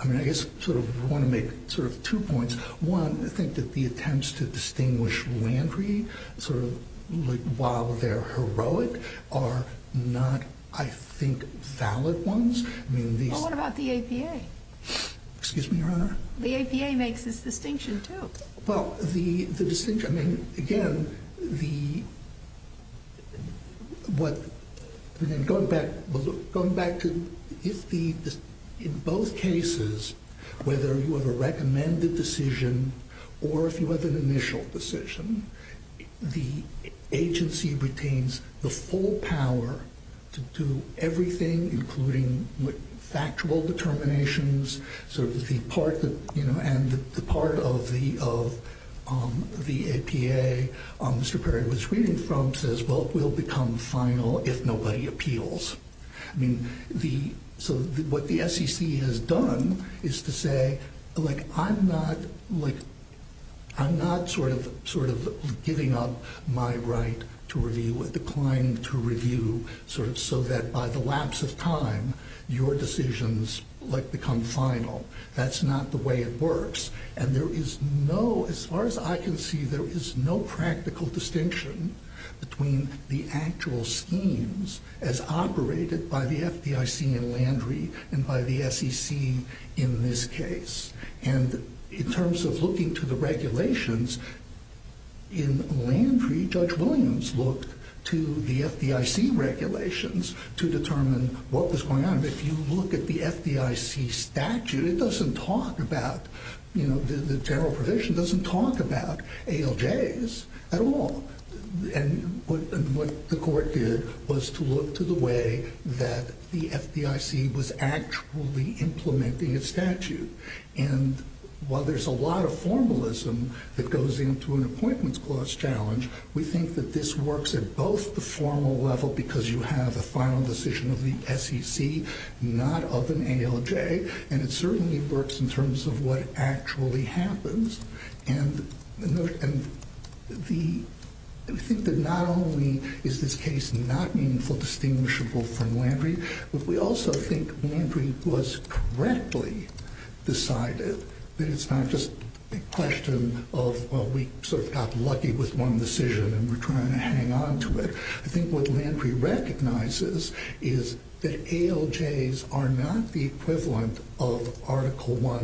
I guess sort of want to make sort of two points. One, I think that the attempts to distinguish Landry, sort of while they're heroic, are not, I think, valid ones. Well, what about the APA? Excuse me, Your Honor? The APA makes this distinction, too. Well, the distinction, I mean, again, the, what, going back to if the, in both cases, whether you have a recommended decision or if you have an initial decision, the agency retains the full power to do everything, including factual determinations. So the part that, you know, and the part of the APA, Mr. Perry was reading from says, well, it will become final if nobody appeals. I mean, the, so what the SEC has done is to say, like, I'm not, like, I'm not sort of giving up my right to review, the claim to review sort of so that by the lapse of time, your decisions, like, become final. That's not the way it works. And there is no, as far as I can see, there is no practical distinction between the actual schemes as operated by the FDIC in Landry and by the SEC in this case. And in terms of looking to the regulations, in Landry, Judge Williams looked to the FDIC regulations to determine what was going on. If you look at the FDIC statute, it doesn't talk about, you know, the general provision doesn't talk about ALJs at all. And what the court did was to look to the way that the FDIC was actually implementing its statute. And while there's a lot of formalism that goes into an appointments clause challenge, we think that this works at both the formal level, because you have a final decision of the SEC, not of an ALJ. And it certainly works in terms of what actually happens. And the, I think that not only is this case not meaningful, not distinguishable from Landry, but we also think Landry was correctly decided. That it's not just a question of, well, we sort of got lucky with one decision and we're trying to hang on to it. I think what Landry recognizes is that ALJs are not the equivalent of Article I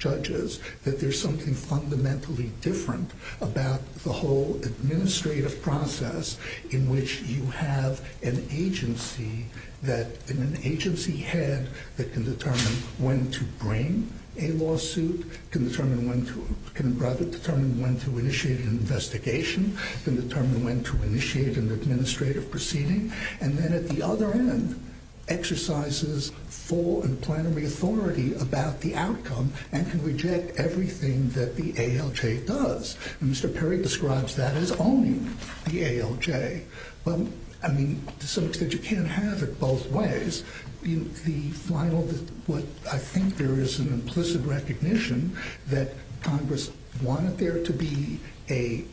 judges, that there's something fundamentally different about the whole administrative process in which you have an agency that, an agency head that can determine when to bring a lawsuit, can determine when to, can rather determine when to initiate an investigation, can determine when to initiate an administrative proceeding. And then at the other end, exercises full and plenary authority about the outcome and can reject everything that the ALJ does. And Mr. Perry describes that as owning the ALJ. Well, I mean, so it's good you can't have it both ways. The final, what I think there is an implicit recognition that Congress wanted there to be a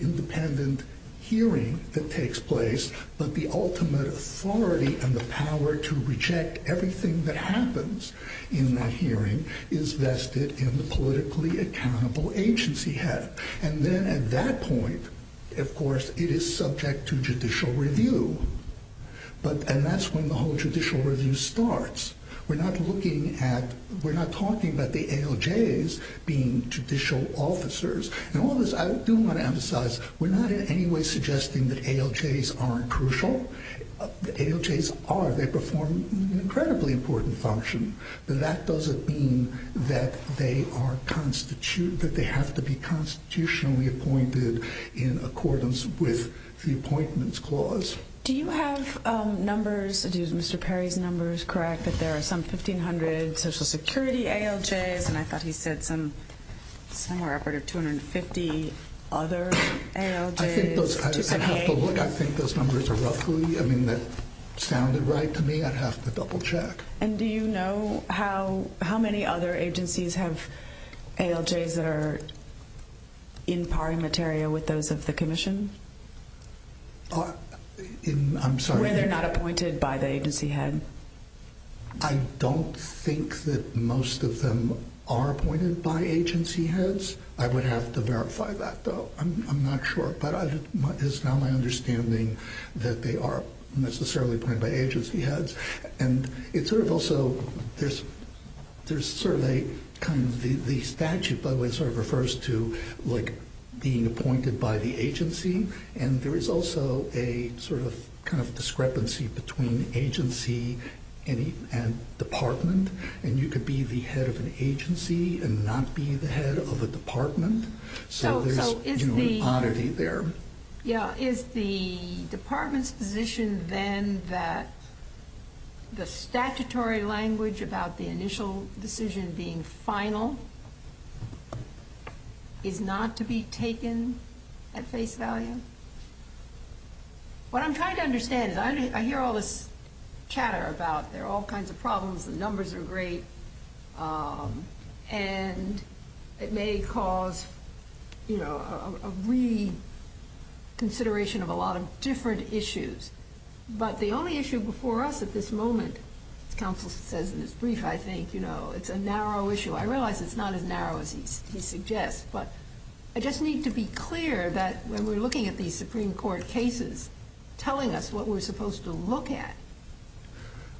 independent hearing that takes place, but the ultimate authority and the power to reject everything that happens in that hearing is vested in the politically accountable agency head. And then at that point, of course, it is subject to judicial review. And that's when the whole judicial review starts. We're not looking at, we're not talking about the ALJs being judicial officers. And all this, I do want to emphasize we're not in any way suggesting that ALJs aren't crucial. The ALJs are, they perform an incredibly important function, but that doesn't mean that they are constitute, that they have to be constitutionally appointed in accordance with the appointments clause. Do you have numbers that use Mr. Perry's numbers, correct? That there are some 1,500 social security ALJs. And I thought he said some, somewhere over 250 other ALJs. I think those numbers are roughly, I mean, that sounded right to me. I'd have to double check. And do you know how, how many other agencies have ALJs that are in parting material with those of the commission? I'm sorry. When they're not appointed by the agency head. I don't think that most of them are appointed by agency heads. I would have to verify that though. I'm not sure, but it's not my understanding that they are necessarily appointed by agency heads. And it's sort of also, there's certainly kind of the statute by the way, sort of refers to like being appointed by the agency. And there is also a sort of kind of discrepancy between agency and department. And you could be the head of an agency and not be the head of a department. So there's an oddity there. Yeah. Is the department's position then that the statutory language about the initial decision being final is not to be taken at face value? What I'm trying to understand is I hear all this chatter about there are all kinds of problems. The numbers are great. And it may cause, you know, a reconsideration of a lot of different issues. But the only issue before us at this moment, counsel says in his brief, I think, you know, it's a narrow issue. I realize it's not as narrow as he suggests, but I just need to be clear that when we're looking at these Supreme Court cases, telling us what we're supposed to look at.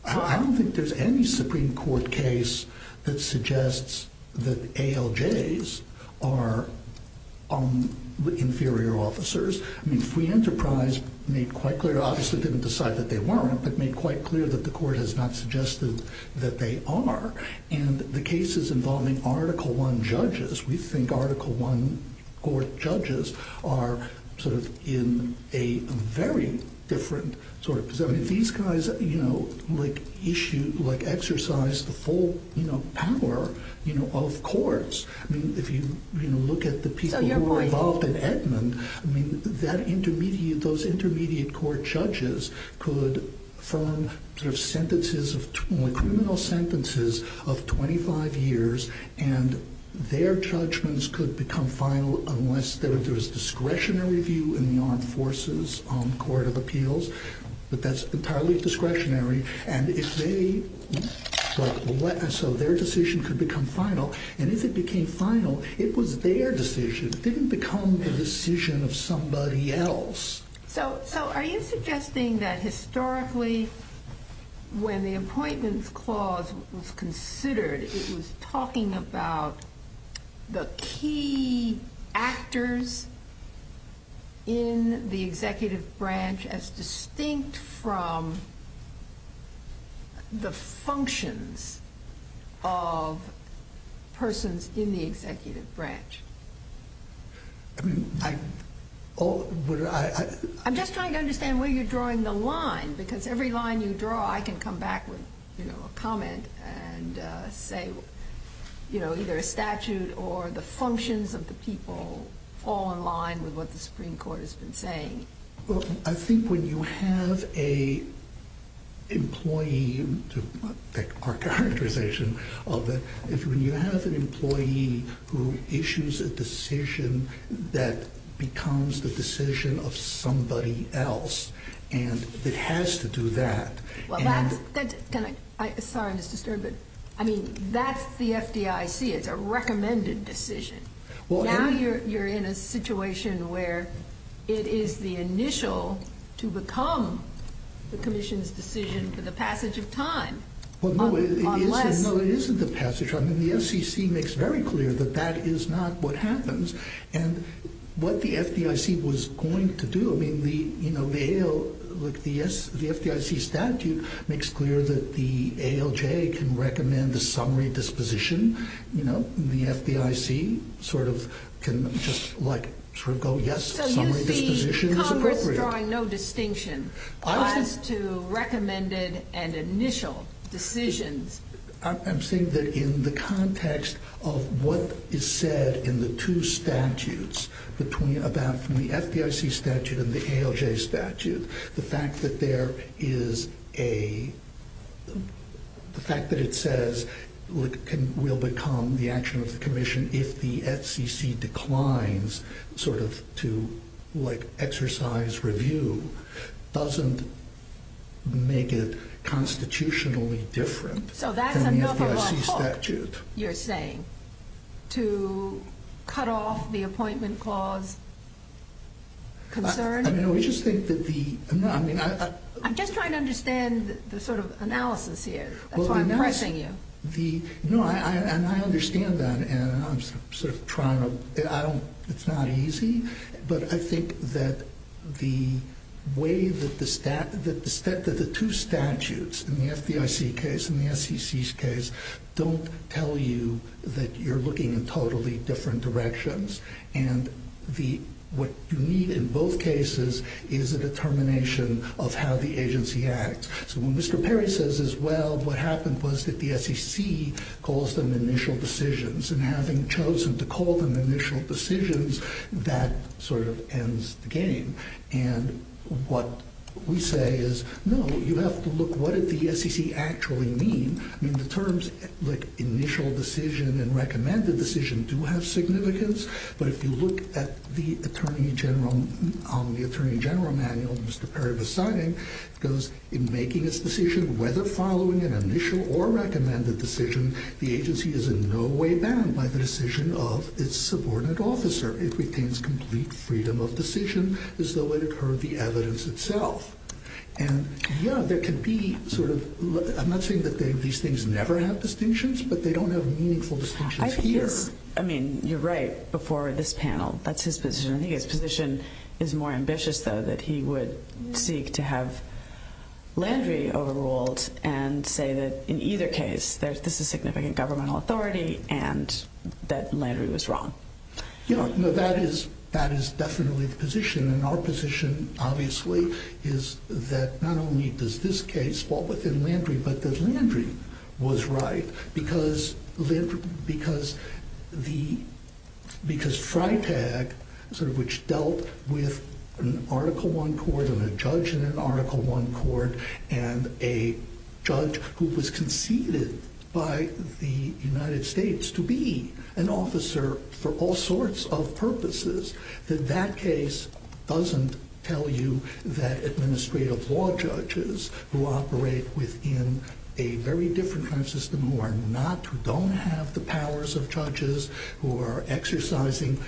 I don't think there's any Supreme Court case that suggests that ALJs are inferior officers. I mean, Free Enterprise made quite clear, obviously didn't decide that they weren't, but made quite clear that the court has not suggested that they are. And the cases involving Article I judges, we think Article I court judges are sort of in a very different sort of position. I mean, these guys, you know, like issue, like exercise the full power, you know, of courts. I mean, if you look at the people who were involved in Edmund, I mean, that intermediate, those intermediate court judges could form sort of sentences, criminal sentences of 25 years and their judgments could become final unless there was discretionary view in law enforces on court of appeals. But that's entirely discretionary. And if they, so their decision could become final. And if it became final, it was their decision. It didn't become the decision of somebody else. when the appointment clause was considered, it was talking about the key actors in the executive branch as distinct from the functions of persons in the executive branch. I'm just trying to understand where you're drawing the line because every line you draw, I can come back with a comment and say, you know, either a statute or the functions of the people all in line with what the Supreme Court has been saying. Well, I think when you have a employee, when you have an employee who issues a decision that becomes the decision of somebody else and it has to do that. I mean, that's the FDIC. It's a recommended decision. Well, you're in a situation where it is the initial to become the commission's decision for the passage of time. Well, no, it isn't the passage. I mean, the FCC makes very clear that that is not what happens and what the FDIC was going to do. I mean, the FDIC statute makes clear that the ALJ can recommend a summary disposition. You know, the FDIC sort of can just like sort of go, yes, summary disposition. So you're drawing no distinction as to recommended and initial decisions. I'm saying that in the context of what is said in the two statutes between about the FDIC statute and the ALJ statute, the fact that there is a fact that it says we'll become the action of the commission if the FCC declines sort of to like exercise review doesn't make it constitutionally different. So that's the number one hope you're saying, to cut off the appointment clause concern? I mean, we just think that the... I'm just trying to understand the sort of analysis here. That's why I'm pressing you. No, I understand that. And I'm sort of trying to... I don't... It's not easy. But I think that the way that the two statutes in the FDIC case and the FCC's case don't tell you that you're looking in totally different directions. And what you need in both cases is a determination of how the agency acts. So what Mr. Perry says is, well, what happened was that the FCC calls them initial decisions. And having chosen to call them initial decisions, that sort of ends the game. And what we say is, no, you have to look, what did the FCC actually mean? I mean, the terms like initial decision and recommended decision do have significance. But if you look at the attorney general manual Mr. Perry was signing, it goes, in making its decision, whether following an initial or recommended decision, the agency is in no way bound by the decision of its subordinate officer. It retains complete freedom of decision as though it occurred the evidence itself. And, yeah, there can be sort of... I'm not saying that these things never have distinctions, but they don't have meaningful discussions here. I mean, you're right before this panel. That's his position. I think his position is more ambitious, though, that he would seek to have Landry overruled and say that in either case, there's a significant governmental authority and that Landry was wrong. You know, that is definitely the position. And our position, obviously, is that not only does this case fall within Landry, but that Landry was right. Because TRITAG, which dealt with an Article I court and a judge in an Article I court, and a judge who was conceded by the United States to be an officer for all sorts of purposes, then that case doesn't tell you that administrative law judges who operate within a very different kind of system, who are not, who don't have the powers of judges, who are exercising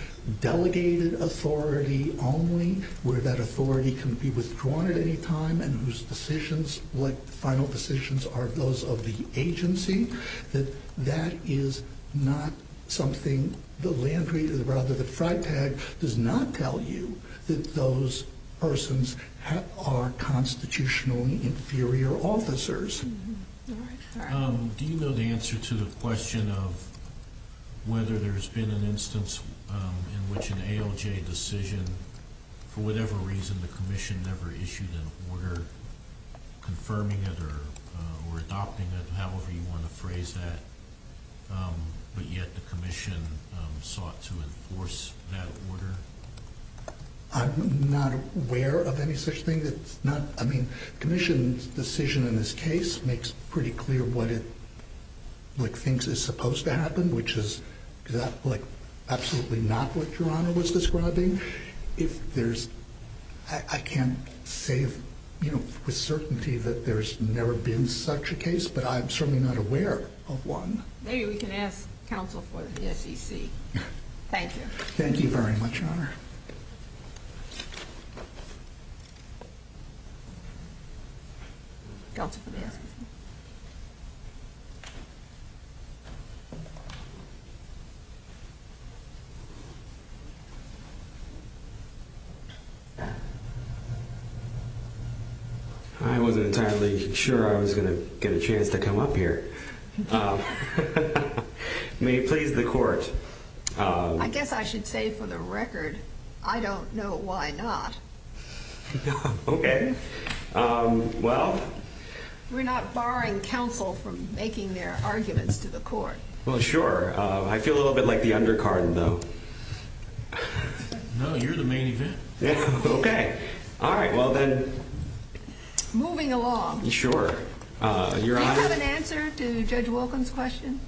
delegated authority only, where that authority can be withdrawn at any time, and whose decisions, what final decisions are those of the agency, that that is not something that Landry, rather that TRITAG, does not tell you that those persons are constitutionally inferior officers. Do you know the answer to the question of whether there's been an instance in which an ALJ decision, for whatever reason, the commission never issued an order confirming it or adopting it, however you want to phrase that, but yet the commission sought to enforce that order? I'm not aware of any such thing. The commission's decision in this case makes pretty clear what it thinks is supposed to happen, which is absolutely not what Your Honor was describing. I can't say with certainty that there's never been such a case, but I'm certainly not aware of one. Maybe we can ask counsel for the SEC. Thank you. Thank you very much, Your Honor. Counsel. I wasn't entirely sure I was going to get a chance to come up here. May it please the Court. I guess I should say for the record, I don't know why not. Okay. Well. We're not barring counsel from making their arguments to the Court. Well, sure. I feel a little bit like the undercard, though. No, you're the main event. Okay. All right. Well, then. Moving along. Sure. Your Honor. Do you have an answer to Judge Wilkham's question?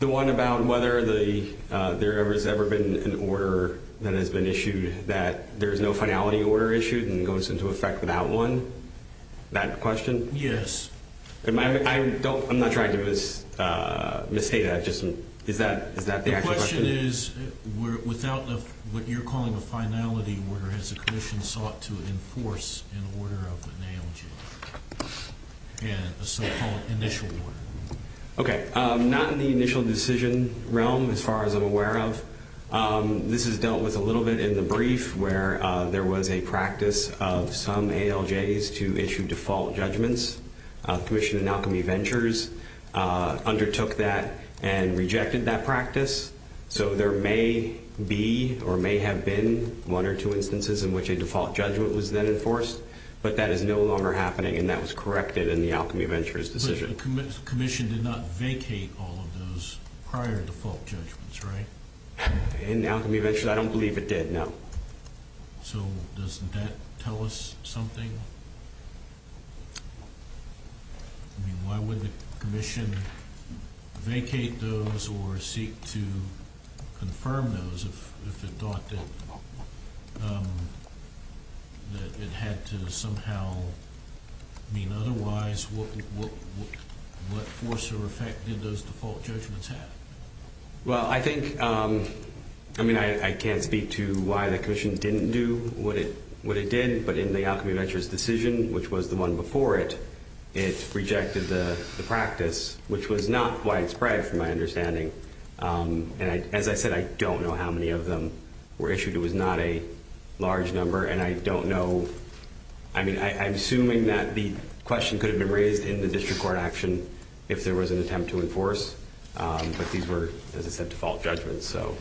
The one about whether there has ever been an order that has been issued that there's no finality order issued and goes into effect without one? That question? Yes. I'm not trying to misstate that. Is that the actual question? The question is, without what you're calling a finality order, has the condition sought to enforce an order of the name of the so-called initial order? Okay. Not in the initial decision realm, as far as I'm aware of. This is dealt with a little bit in the brief, where there was a practice of some ALJs to issue default judgments. Commission in Alchemy Ventures undertook that and rejected that practice. So there may be or may have been one or two instances in which a default judgment was then enforced, but that is no longer happening, and that was corrected in the Alchemy Ventures decision. The commission did not vacate all of those prior default judgments, right? In the Alchemy Ventures, I don't believe it did, no. So doesn't that tell us something? I mean, why would the commission vacate those or seek to confirm those if it thought that it had to somehow mean otherwise? What force or effect did those default judgments have? Well, I think, I mean, I can't speak to why the commission didn't do what it did, but in the Alchemy Ventures decision, which was the one before it, it rejected the practice, which was not widespread from my understanding. And as I said, I don't know how many of them were issued. It was not a large number, and I don't know, I mean, I'm assuming that the question could have been raised in the district court action if there was an attempt to enforce. But these were, as I said, default judgments, so.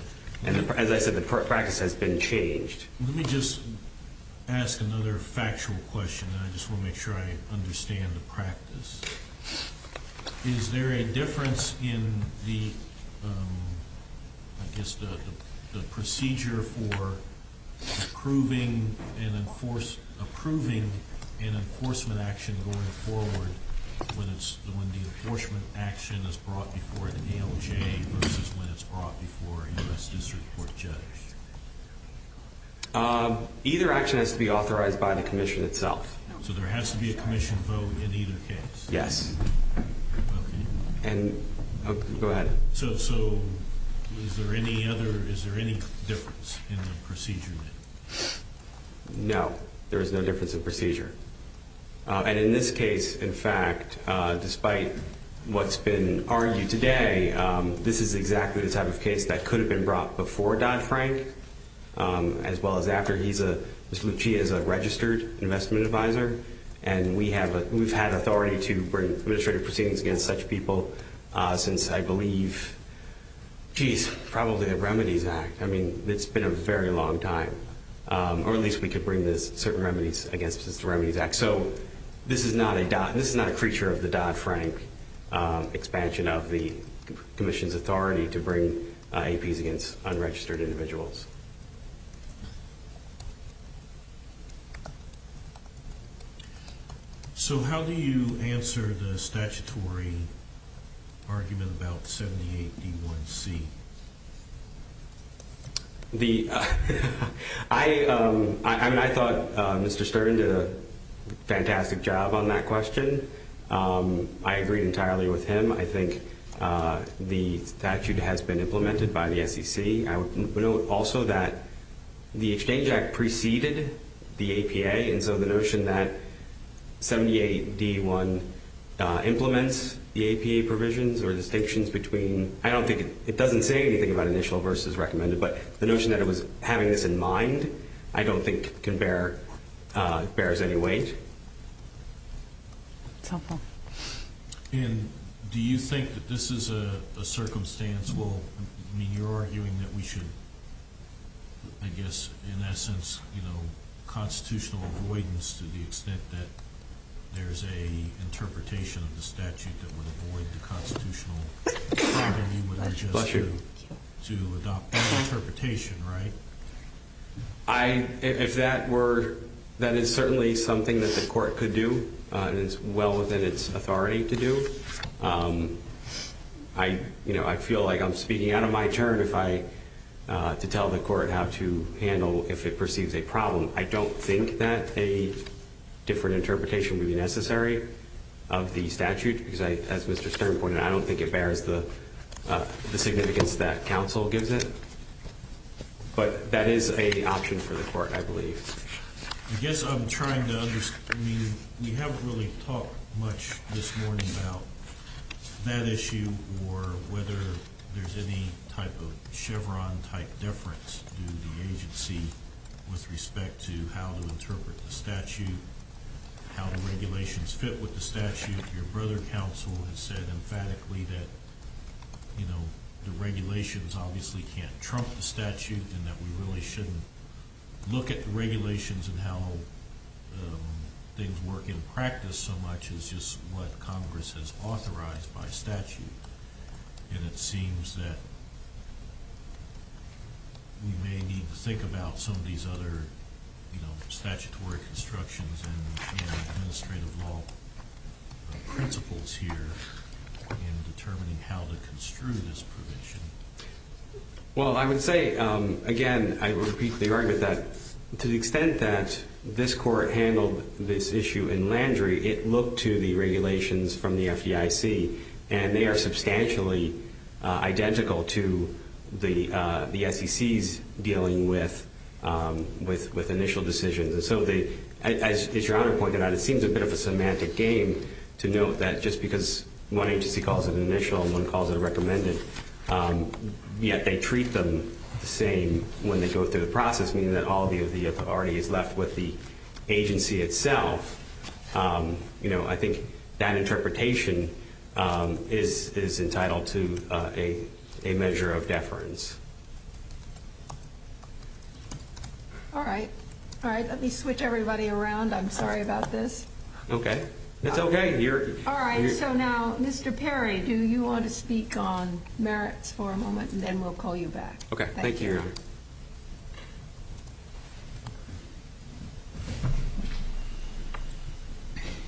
And as I said, the practice has been changed. Let me just ask another factual question, and I just want to make sure I understand the practice. Is there a difference in the, I guess, the procedure for approving an enforcement action going forward when the enforcement action is brought before the DOJ versus when it's brought before a U.S. district court judge? Either action has to be authorized by the commission itself. So there has to be a commission vote in either case? Yes. Go ahead. So is there any difference in the procedure? No, there is no difference in procedure. And in this case, in fact, despite what's been argued today, this is exactly the type of case that could have been brought before Dodd-Frank as well as after he's a registered investment advisor. And we've had authority to bring administrative proceedings against such people since, I believe, geez, probably the Remedies Act. I mean, it's been a very long time. Or at least we could bring the remedies against the Remedies Act. So this is not a creature of the Dodd-Frank expansion of the commission's to bring APs against unregistered individuals. So how do you answer the statutory argument about 78E1C? I thought Mr. Stern did a fantastic job on that question. I agree entirely with him. I think the statute has been implemented by the SEC. I would note also that the Exchange Act preceded the APA, and so the notion that 78E1 implements the APA provisions or distinctions between – I don't think it doesn't say anything about initial versus recommended, but the notion that it was having this in mind I don't think bears any weight. And do you think that this is a circumstantial – I mean, you're arguing that we should, I guess, in that sense, you know, constitutional avoidance to the extent that there's an interpretation of the statute that would avoid the constitutional authority to adopt that interpretation, right? If that were – that is certainly something that the court could do and is well within its authority to do. I feel like I'm speaking out of my turn to tell the court how to handle if it perceives a problem. I don't think that a different interpretation would be necessary of the statute because, as Mr. Stern pointed out, I don't think it bears the significance that counsel gives it. But that is an option for the court, I believe. I guess I'm trying to – we haven't really talked much this morning about that issue or whether there's any type of Chevron-type difference in the agency with respect to how to interpret the statute, how the regulations fit with the statute. Your brother, counsel, has said emphatically that, you know, the regulations obviously can't trump the statute and that we really shouldn't look at the regulations and how things work in practice so much as just what Congress has authorized by statute. And it seems that we may need to think about some of these other, you know, statutory constructions and administrative law principles here in determining how to construe this provision. Well, I would say, again, I repeat the argument that to the extent that this court handled this issue in Landrieu, it looked to the regulations from the FDIC and they are substantially identical to the FCC's dealing with initial decisions. And so, as Your Honor pointed out, it seems a bit of a semantic game to note that just because one agency calls it initial and one calls it recommended, yet they treat them the same when they go through the process, meaning that all of the authority is left with the agency itself. You know, I think that interpretation is entitled to a measure of deference. All right. All right, let me switch everybody around. I'm sorry about this. Okay. All right. So now, Mr. Perry, do you want to speak on merits for a moment and then we'll call you back. Okay. Thank you, Your Honor.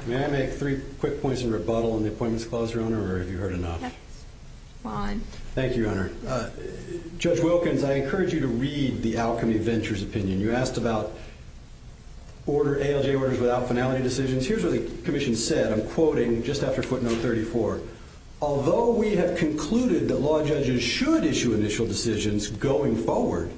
May I make three quick points of rebuttal on the appointments clause, Your Honor, or have you heard enough? Fine. Thank you, Your Honor. Judge Wilkins, I encourage you to read the outcome of the adventure's opinion. You asked about order ALJ orders without finality decisions. And here's what the commission said. I'm quoting just after footnote 34. Although we have concluded that law judges should issue initial decisions going forward,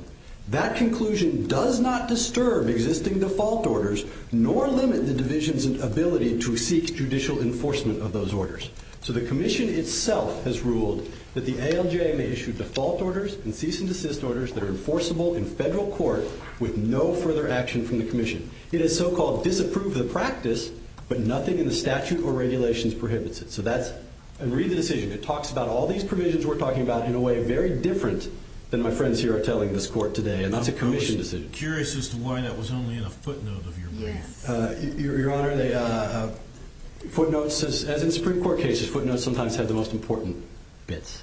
that conclusion does not disturb existing default orders nor limit the division's ability to seek judicial enforcement of those orders. So the commission itself has ruled that the ALJ may issue default orders and cease and desist orders that are enforceable in federal court with no further action from the commission. It is so-called disapproved of the practice, but nothing in the statute or regulations prohibits it. So that's – and read the decision. It talks about all these provisions we're talking about in a way very different than my friends here are telling this court today. And that's a commission decision. I'm just curious as to why that was only in a footnote of your ruling. Your Honor, footnotes, as in Supreme Court cases, footnotes sometimes have the most important bits.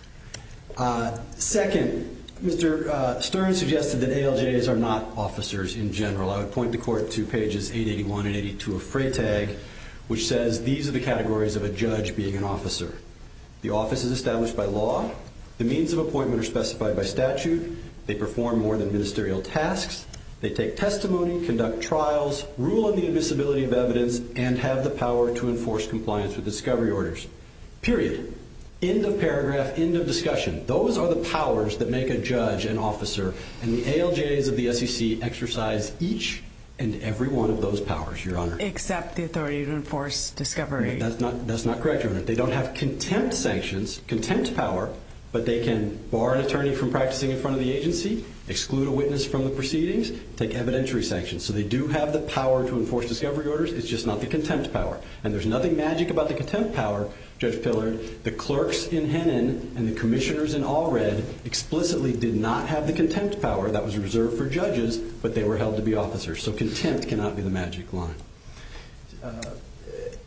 Second, Mr. Stern suggested that ALJs are not officers in general. I would point the court to pages 881 and 882 of Freytag, which says these are the categories of a judge being an officer. The office is established by law. The means of appointment are specified by statute. They perform more than ministerial tasks. They take testimony, conduct trials, rule on the invisibility of evidence, and have the power to enforce compliance with discovery orders. Period. End of paragraph, end of discussion. Those are the powers that make a judge an officer. And the ALJs of the SEC exercise each and every one of those powers, Your Honor. Except the authority to enforce discovery. That's not correct, Your Honor. They don't have contempt sanctions, contempt power, but they can bar an attorney from practicing in front of the agency, exclude a witness from the proceedings, take evidentiary sanctions. So they do have the power to enforce discovery orders. It's just not the contempt power. And there's nothing magic about the contempt power, Judge Pillard. The clerks in Hennon and the commissioners in Allred explicitly did not have the contempt power that was reserved for judges, but they were held to be officers. So contempt cannot be the magic wand.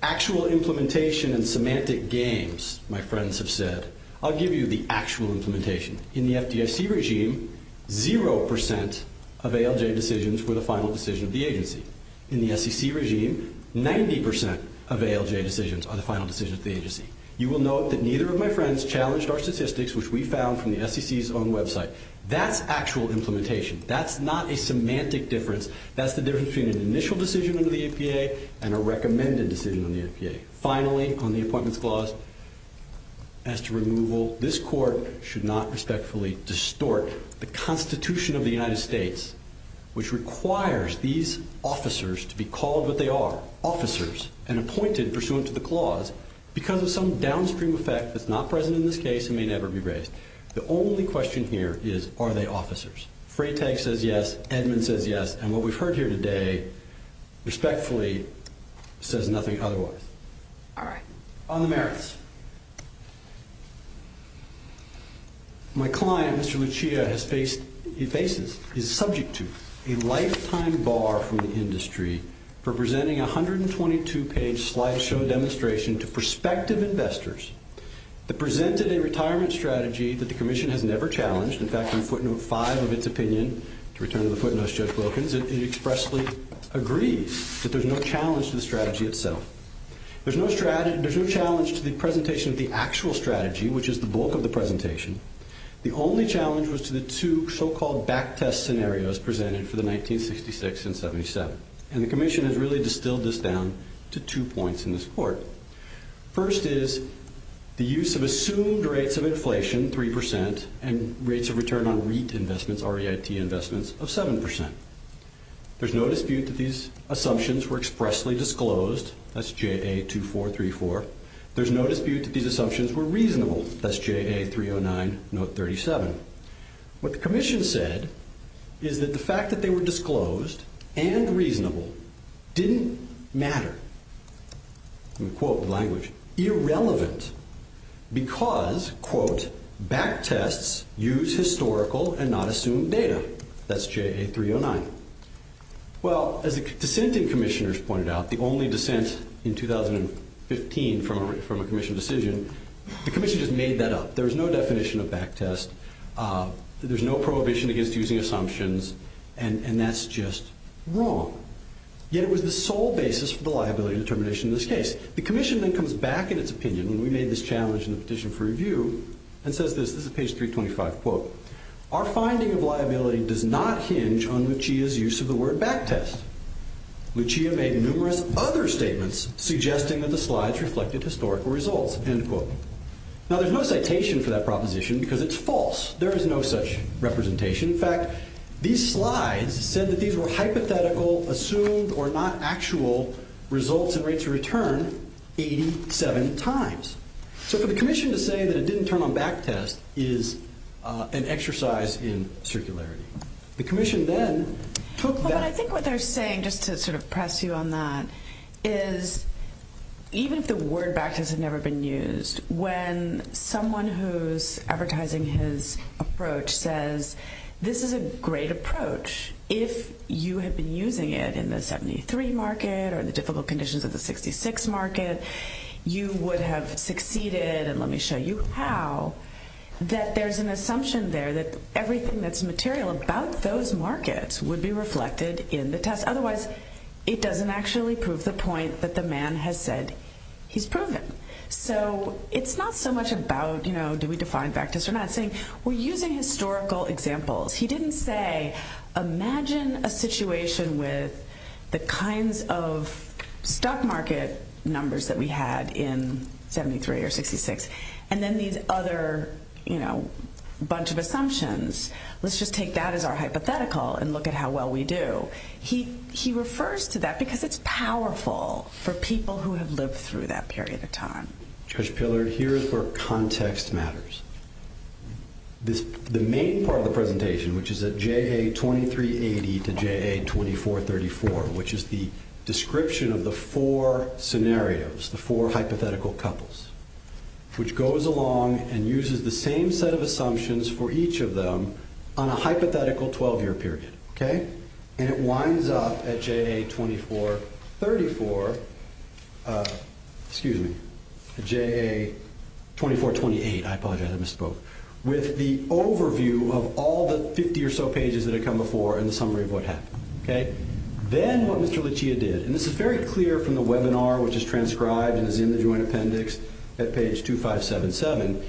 Actual implementation and semantic gains, my friends have said. I'll give you the actual implementation. In the FDIC regime, 0% of ALJ decisions were the final decision of the agency. In the SEC regime, 90% of ALJ decisions are the final decision of the agency. You will note that neither of my friends challenged our statistics, which we found from the SEC's own website. That's actual implementation. That's not a semantic difference. That's the difference between an initial decision in the APA and a recommended decision in the APA. Finally, on the appointments clause, as to removal, this court should not respectfully distort the Constitution of the United States, which requires these officers to be called what they are, officers, and appointed pursuant to the clause because of some downstream effect that's not present in this case and may never be raised. The only question here is, are they officers? Freytag says yes. Edmund says yes. And what we've heard here today, respectfully, says nothing otherwise. All right. On the merits. My client, Mr. Mechia, is subject to a lifetime bar from the industry for presenting a 122-page slideshow demonstration to prospective investors that presented a retirement strategy that the commission has never challenged. In fact, in footnote 5 of its opinion, to return to the footnotes just broken, it expressly agrees that there's no challenge to the strategy itself. There's no challenge to the presentation of the actual strategy, which is the bulk of the presentation. The only challenge was to the two so-called back-test scenarios presented for the 1966 and 77, and the commission has really distilled this down to two points in this court. First is the use of assumed rates of inflation, 3%, and rates of return on REIT investments, R-E-I-T investments, of 7%. There's no dispute that these assumptions were expressly disclosed. That's J82434. There's no dispute that these assumptions were reasonable. That's J8309, note 37. What the commission said is that the fact that they were disclosed and reasonable didn't matter. I'm going to quote the language. Irrelevant because, quote, back-tests use historical and not assumed data. That's J8309. Well, as the dissenting commissioners pointed out, the only dissent in 2015 from a commission decision, the commission just made that up. There's no definition of back-test. There's no prohibition against using assumptions, and that's just wrong. Yet it was the sole basis for the liability determination in this case. The commission then comes back in its opinion, and we made this challenge in the petition for review, and says this, this is page 325, quote, our finding of liability does not hinge on Lucia's use of the word back-test. Lucia made numerous other statements suggesting that the slides reflected historical results, end quote. Now, there's no citation for that proposition because it's false. There is no such representation. In fact, these slides said that these were hypothetical, assumed, or not actual results and rates of return 87 times. So for the commission to say that it didn't turn on back-test is an exercise in circularity. The commission then took that. I think what they're saying, just to sort of press you on that, is even the word back-test had never been used. When someone who's advertising his approach says this is a great approach, if you have been using it in the 73 market or the difficult conditions of the 66 market, you would have succeeded, and let me show you how, that there's an assumption there that everything that's material about those markets would be reflected in the test. Otherwise, it doesn't actually prove the point that the man has said he's proven. So it's not so much about do we define back-test or not. We're using historical examples. He didn't say imagine a situation with the kinds of stock market numbers that we had in 73 or 66, and then these other bunch of assumptions. Let's just take that as our hypothetical and look at how well we do. He refers to that because it's powerful for people who have lived through that period of time. Judge Pillard, here's where context matters. The main part of the presentation, which is at JA 2380 to JA 2434, which is the description of the four scenarios, the four hypothetical couples, which goes along and uses the same set of assumptions for each of them on a hypothetical 12-year period. It winds up at JA 2438, I thought I had misspoke, with the overview of all the 50 or so pages that had come before and the summary of what happened. Then what Mr. Lucia did, and this is very clear from the webinar, which is transcribed and is in the UN appendix at page 2577.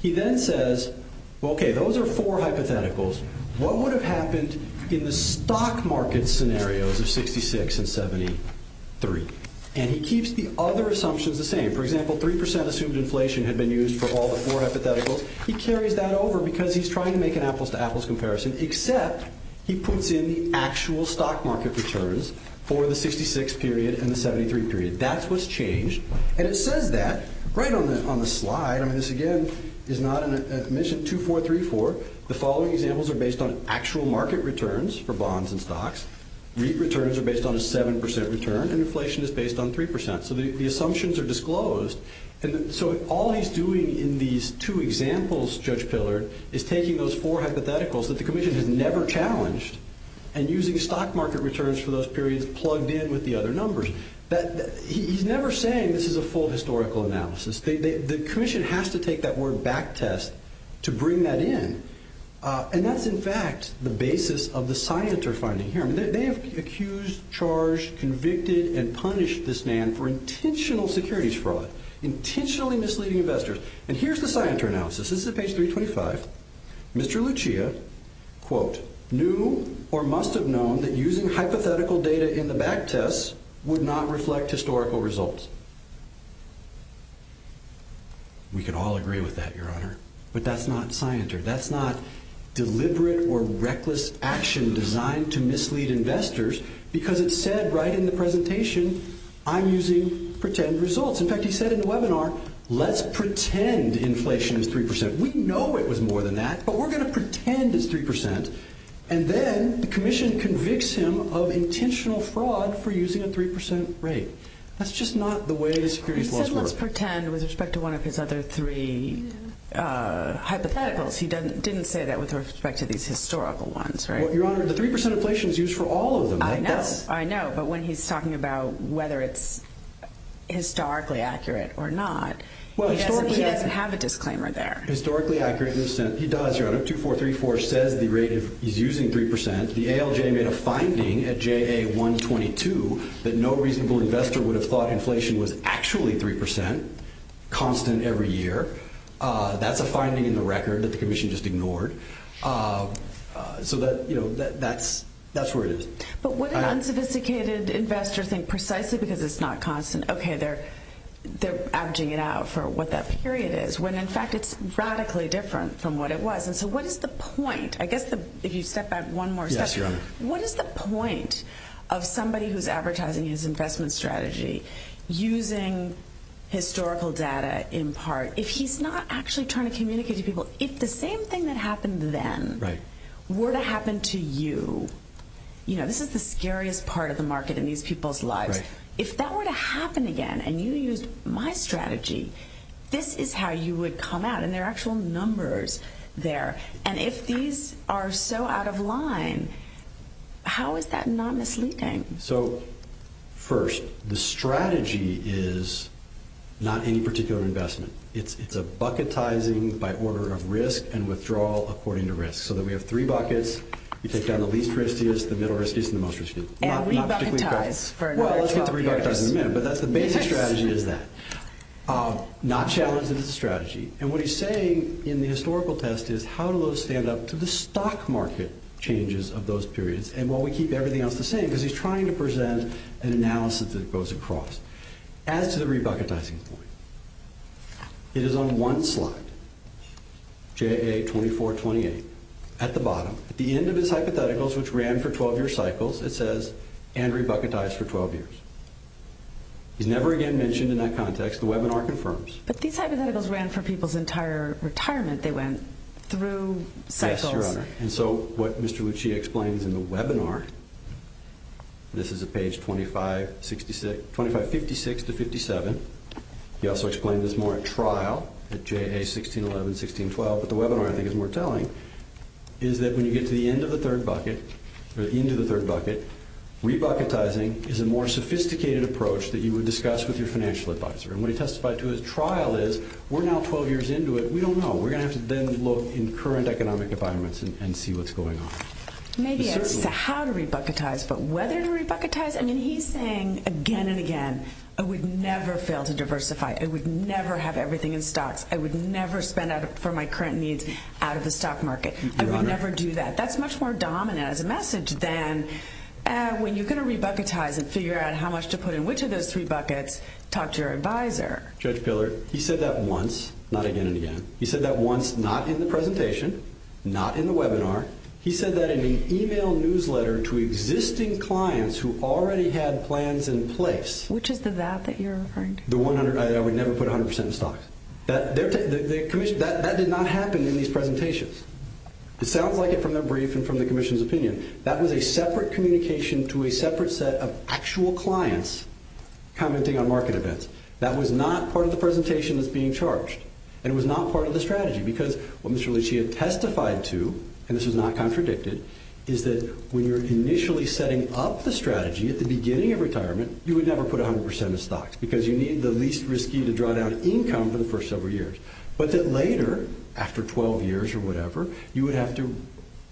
He then says, okay, those are four hypotheticals. What would have happened in the stock market scenarios of 66 and 73? And he keeps the other assumptions the same. For example, 3% assumed inflation had been used for all the four hypotheticals. He carries that over because he's trying to make an apples-to-apples comparison, except he puts in the actual stock market returns for the 66 period and the 73 period. That's what's changed. And it says that right on the slide. I mean, this, again, is not, as mentioned, 2434. The following examples are based on actual market returns for bonds and stocks. REIT returns are based on a 7% return, and inflation is based on 3%. So the assumptions are disclosed. So all he's doing in these two examples, Judge Pillard, is taking those four hypotheticals that the Commission had never challenged and using stock market returns for those periods plugged in with the other numbers. He's never saying this is a full historical analysis. The Commission has to take that word backtest to bring that in. And that's, in fact, the basis of the Scienter finding here. They have accused, charged, convicted, and punished this man for intentional securities fraud, intentionally misleading investors. And here's the Scienter analysis. This is page 325. Mr. Lucia, quote, knew or must have known that using hypothetical data in the backtest would not reflect historical results. We could all agree with that, Your Honor. But that's not Scienter. That's not deliberate or reckless action designed to mislead investors because it said right in the presentation, I'm using pretend results. In fact, he said in the webinar, let's pretend inflation is 3%. We know it was more than that, but we're going to pretend it's 3%. And then the Commission convicts him of intentional fraud for using a 3% rate. That's just not the way the securities laws work. He said let's pretend with respect to one of his other three hypotheticals. He didn't say that with respect to these historical ones, right? Your Honor, the 3% inflation is used for all of them. I know. I know. But when he's talking about whether it's historically accurate or not, he doesn't have a disclaimer there. Historically accurate, he does, Your Honor. 2434 said the rate is using 3%. The ALJ made a finding at JA122 that no reasonable investor would have thought inflation was actually 3%, constant every year. That's a finding in the record that the Commission just ignored. So that's where it is. But what if unsophisticated investors think precisely because it's not constant, okay, they're averaging it out for what that period is, when in fact it's radically different from what it was. So what is the point? I guess if you step back one more step, what is the point of somebody who's advertising his investment strategy using historical data in part? If he's not actually trying to communicate to people, if the same thing that happened then were to happen to you, you know, this is the scariest part of the market in these people's lives. If that were to happen again and you used my strategy, this is how you would come out. And there are actual numbers there. And if these are so out of line, how is that not misleading? So, first, the strategy is not any particular investment. It's a bucketizing by order of risk and withdrawal according to risk. So then we have three buckets. You take down the least riskiest, the middle riskiest, and the most riskiest. And re-bucketize. Well, it's not re-bucketizing again, but that's the basic strategy is that. Not challenging the strategy. And what he's saying in the historical test is, how do those stand up to the stock market changes of those periods? And while we keep everything else the same, because he's trying to present an analysis that goes across. Add to the re-bucketizing point. It is on one slide, JA2428, at the bottom. At the end of his hypotheticals, which ran for 12-year cycles, it says, and re-bucketized for 12 years. He never again mentioned in that context. The webinar confirms. But these hypotheticals ran for people's entire retirement. They went through. Yes, Your Honor. And so what Mr. Lucci explains in the webinar, this is at page 2556-57. He also explains this more at trial, at JA1611, 1612. But the webinar, I think, is more telling, is that when you get to the end of the third bucket, or at the end of the third bucket, re-bucketizing is a more sophisticated approach that you would discuss with your financial advisor. And what he testified to at trial is, we're now 12 years into it. We don't know. We're going to have to then look in current economic environments and see what's going on. Maybe it's how to re-bucketize, but whether to re-bucketize. I mean, he's saying again and again, I would never fail to diversify. I would never have everything in stocks. I would never spend for my current needs out of the stock market. I would never do that. That's much more dominant as a message than when you're going to re-bucketize and figure out how much to put in which of those three buckets, talk to your advisor. Judge Pillar, he said that once, not again and again. He said that once, not in the presentation, not in the webinar. He said that in an e-mail newsletter to existing clients who already had plans in place. Which is the that that you're referring to? I would never put 100% in stocks. That did not happen in these presentations. It sounds like it from the brief and from the commission's opinion. That was a separate communication to a separate set of actual clients commenting on market events. That was not part of the presentation that's being charged. And it was not part of the strategy. Because what Mr. Leach had testified to, and this is not contradicted, is that when you're initially setting up the strategy at the beginning of retirement, you would never put 100% in stocks. Because you need the least risky to draw down income for the first several years. But then later, after 12 years or whatever, you would have to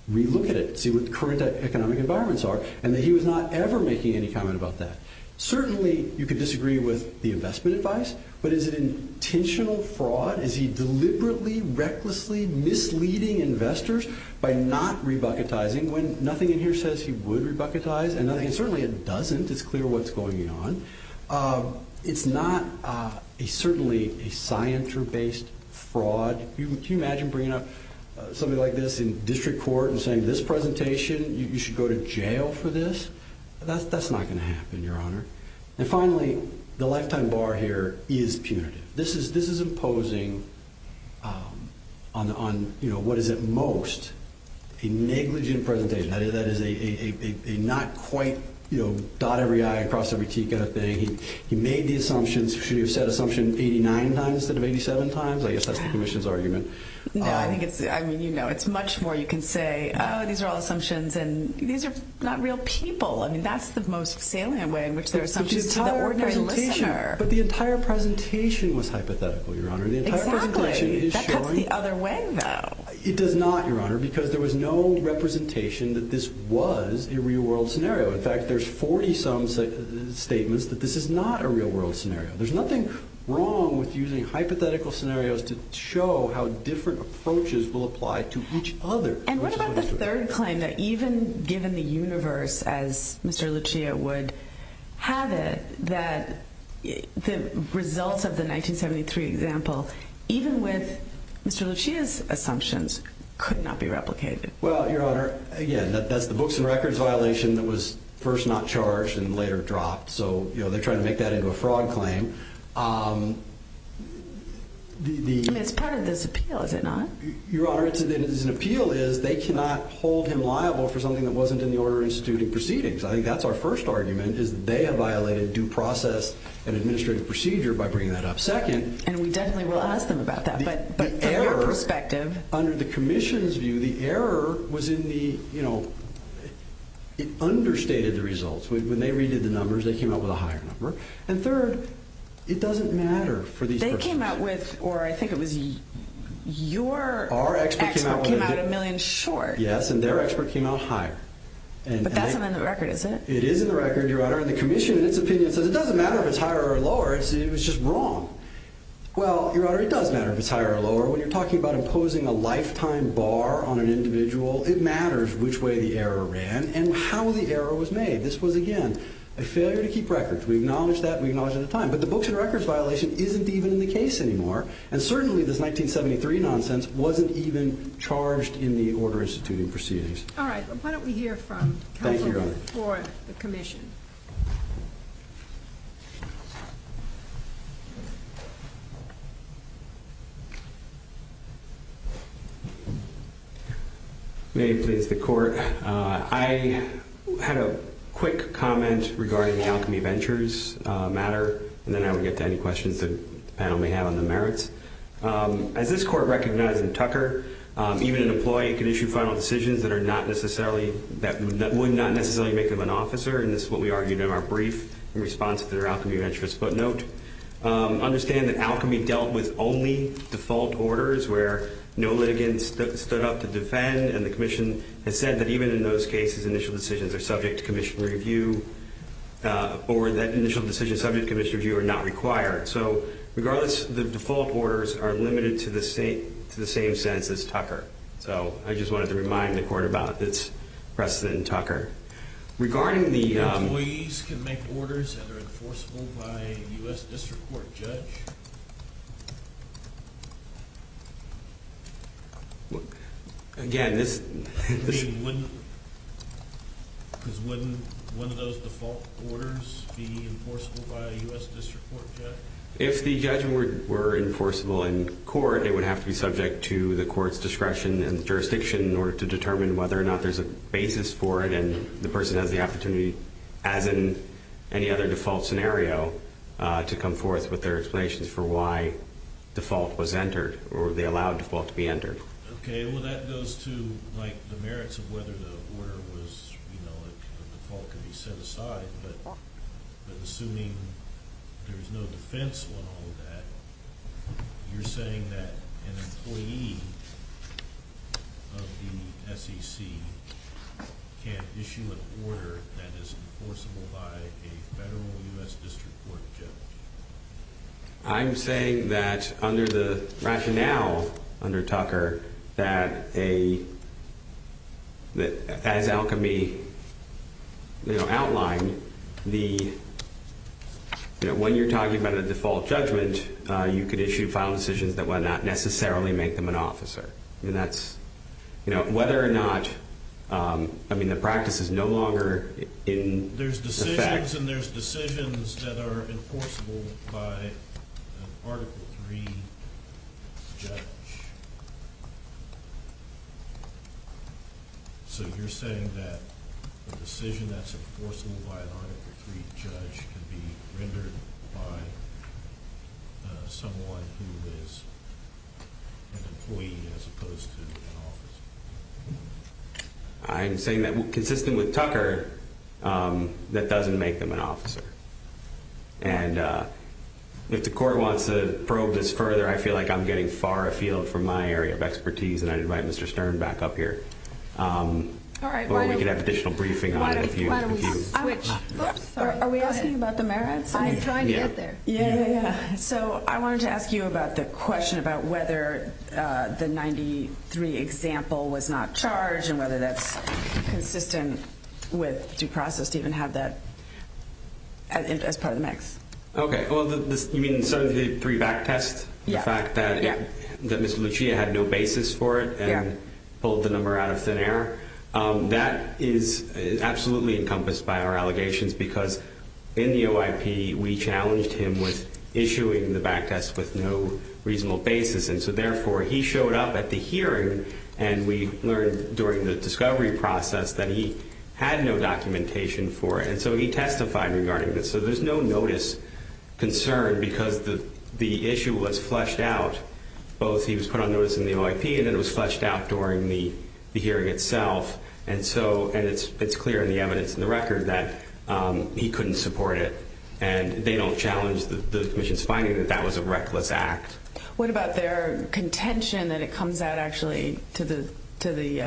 re-look at it, see what the current economic environments are. And that he was not ever making any comment about that. Certainly, you could disagree with the investment advice. But is it intentional fraud? Is he deliberately, recklessly misleading investors by not re-bucketizing when nothing in here says he would re-bucketize? And certainly it doesn't. It's clear what's going on. It's not certainly a scienter-based fraud. Can you imagine bringing up something like this in district court and saying this presentation, you should go to jail for this? That's not going to happen, Your Honor. And finally, the lifetime bar here is punitive. This is imposing on, you know, what is at most a negligent presentation. That is a not quite, you know, dot every I across every T kind of thing. He made the assumptions. Should he have said assumption 89 times instead of 87 times? I guess that's the commission's argument. No, I think it's, I mean, you know, it's much more you can say, Oh, these are all assumptions, and these are not real people. I mean, that's the most salient way in which there are assumptions. But the entire presentation was hypothetical, Your Honor. Exactly. That's the other way, though. It is not, Your Honor, because there was no representation that this was a real-world scenario. In fact, there's 40-some statements that this is not a real-world scenario. There's nothing wrong with using hypothetical scenarios to show how different approaches will apply to each other. And what about the third claim that even given the universe, as Mr. Lucia would have it, that the results of the 1973 example, even with Mr. Lucia's assumptions, could not be replicated? Well, Your Honor, again, that's the books and records violation that was first not charged and later dropped. So, you know, they're trying to make that into a fraud claim. I mean, it's part of this appeal, is it not? Your Honor, it is an appeal, is they cannot hold him liable for something that wasn't in the order of instituting proceedings. I think that's our first argument, is that they have violated due process and administrative procedure by bringing that up. Second. And we definitely will ask them about that. But from our perspective. Under the commission's view, the error was in the, you know, understated results. When they redid the numbers, they came up with a higher number. And third, it doesn't matter for these people. They came out with, or I think it was your expert came out a million short. Yes, and their expert came out higher. But that's not in the record, is it? It is in the record, Your Honor. And the commission, in its opinion, says it doesn't matter if it's higher or lower, it was just wrong. Well, Your Honor, it does matter if it's higher or lower. When you're talking about imposing a lifetime bar on an individual, it matters which way the error ran and how the error was made. This was, again, a failure to keep records. We acknowledge that and we acknowledge it at the time. But the books and records violation isn't even the case anymore. And certainly this 1973 nonsense wasn't even charged in the order instituting proceedings. All right. Why don't we hear from counsel for the commission. May it please the Court. Thank you, Your Honor. I had a quick comment regarding the Alchemy Ventures matter, and then I would get to any questions the panel may have on the merits. As this Court recognized in Tucker, even an employee can issue final decisions that are not necessarily, that would not necessarily make them an officer, and this is what we argued in our brief in response to their Alchemy Ventures footnote. Understand that Alchemy dealt with only default orders where no litigants stood up to defend, and the commission has said that even in those cases initial decisions are subject to commission review, or that initial decisions subject to commission review are not required. So regardless, the default orders are limited to the same sense as Tucker. So I just wanted to remind the Court about this precedent in Tucker. Regarding the… Default orders that are enforceable by a U.S. District Court judge? Again, this… Wouldn't those default orders be enforceable by a U.S. District Court judge? If the judgment were enforceable in court, it would have to be subject to the court's discretion and jurisdiction in order to determine whether or not there's a basis for it, and the person has the opportunity, as in any other default scenario, to come forth with their explanations for why default was entered, or were they allowed default to be entered. Okay, well, that goes to, like, the merits of whether the order was, you know, default could be set aside, but assuming there's no defense law on that, you're saying that an employee of the SEC can't issue an order that is enforceable by a federal U.S. District Court judge? I'm saying that, under the rationale under Tucker, that as Alchemy outlined, when you're talking about a default judgment, you could issue final decisions that would not necessarily make them an officer. And that's, you know, whether or not, I mean, the practice is no longer in effect. There's decisions, and there's decisions that are enforceable by an Article III judge. So you're saying that a decision that's enforceable by an Article III judge could be rendered by someone who is an employee as opposed to an officer? I'm saying that, consistent with Tucker, that doesn't make them an officer. And if the Court wants to probe this further, I feel like I'm getting far afield from my area of expertise, and I'd invite Mr. Stern back up here. Or we could have additional briefing on it if you want. Are we asking about the merits? Yeah. So I wanted to ask you about the question about whether the 93 example was not charged, and whether that's consistent with due process, even have that as part of the mix. Okay. Well, you mean in terms of the three back tests? Yeah. The fact that Ms. Lucia had no basis for it, and pulled the number out of thin air? That is absolutely encompassed by our allegations, because in the OIP we challenged him with issuing the back test with no reasonable basis. And so, therefore, he showed up at the hearing, and we learned during the discovery process that he had no documentation for it. And so he testified regarding this. So there's no notice concern, because the issue was fleshed out. Both he was put on notice in the OIP, and it was fleshed out during the hearing itself. And so it's clear in the evidence in the record that he couldn't support it. And they don't challenge the Commission's finding that that was a reckless act. What about their contention that it comes out actually to the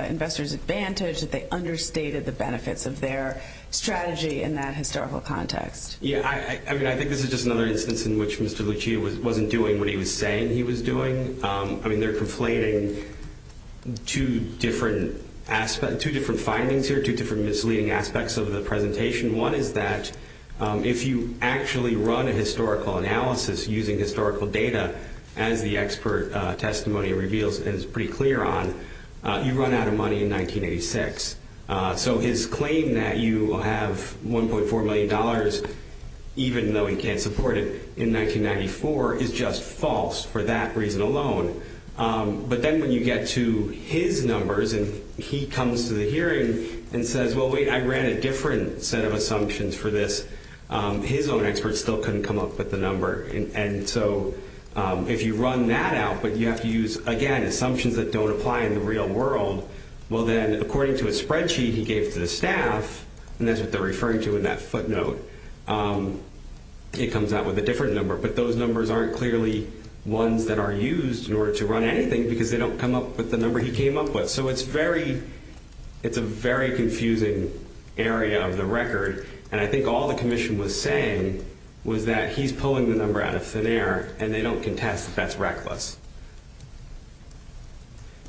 investor's advantage, that they understated the benefits of their strategy in that historical context? Yeah. I mean, I think this is just another instance in which Mr. Lucia wasn't doing what he was saying. I mean, they're complaining two different findings here, two different misleading aspects of the presentation. One is that if you actually run a historical analysis using historical data, as the expert testimony reveals and is pretty clear on, you run out of money in 1986. So his claim that you will have $1.4 million, even though he can't support it, in 1994 is just false for that reason alone. But then when you get to his numbers and he comes to the hearing and says, well, wait, I ran a different set of assumptions for this, his own experts still couldn't come up with the number. And so if you run that out but you have to use, again, assumptions that don't apply in the real world, well, then, according to a spreadsheet he gave to the staff, and that's what they're referring to in that footnote, he comes out with a different number. But those numbers aren't clearly ones that are used in order to run anything because they don't come up with the number he came up with. So it's a very confusing area of the record. And I think all the commission was saying was that he's pulling the number out of thin air and they don't contest that that's reckless.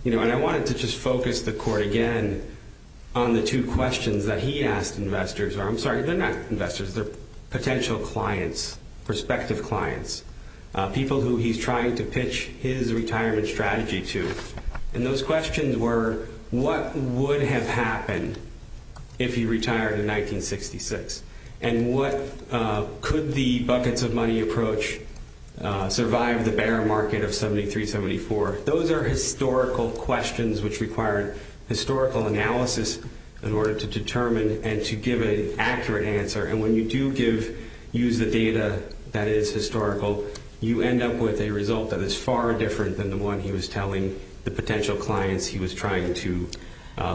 And I wanted to just focus the court again on the two questions that he asked investors, I'm sorry, they're not investors, they're potential clients, prospective clients, people who he's trying to pitch his retirement strategy to. And those questions were, what would have happened if he retired in 1966? And could the buckets of money approach survive the bear market of 73, 74? Those are historical questions which require historical analysis in order to determine and to give an accurate answer. And when you do use the data that is historical, you end up with a result that is far different than the one he was telling the potential clients he was trying to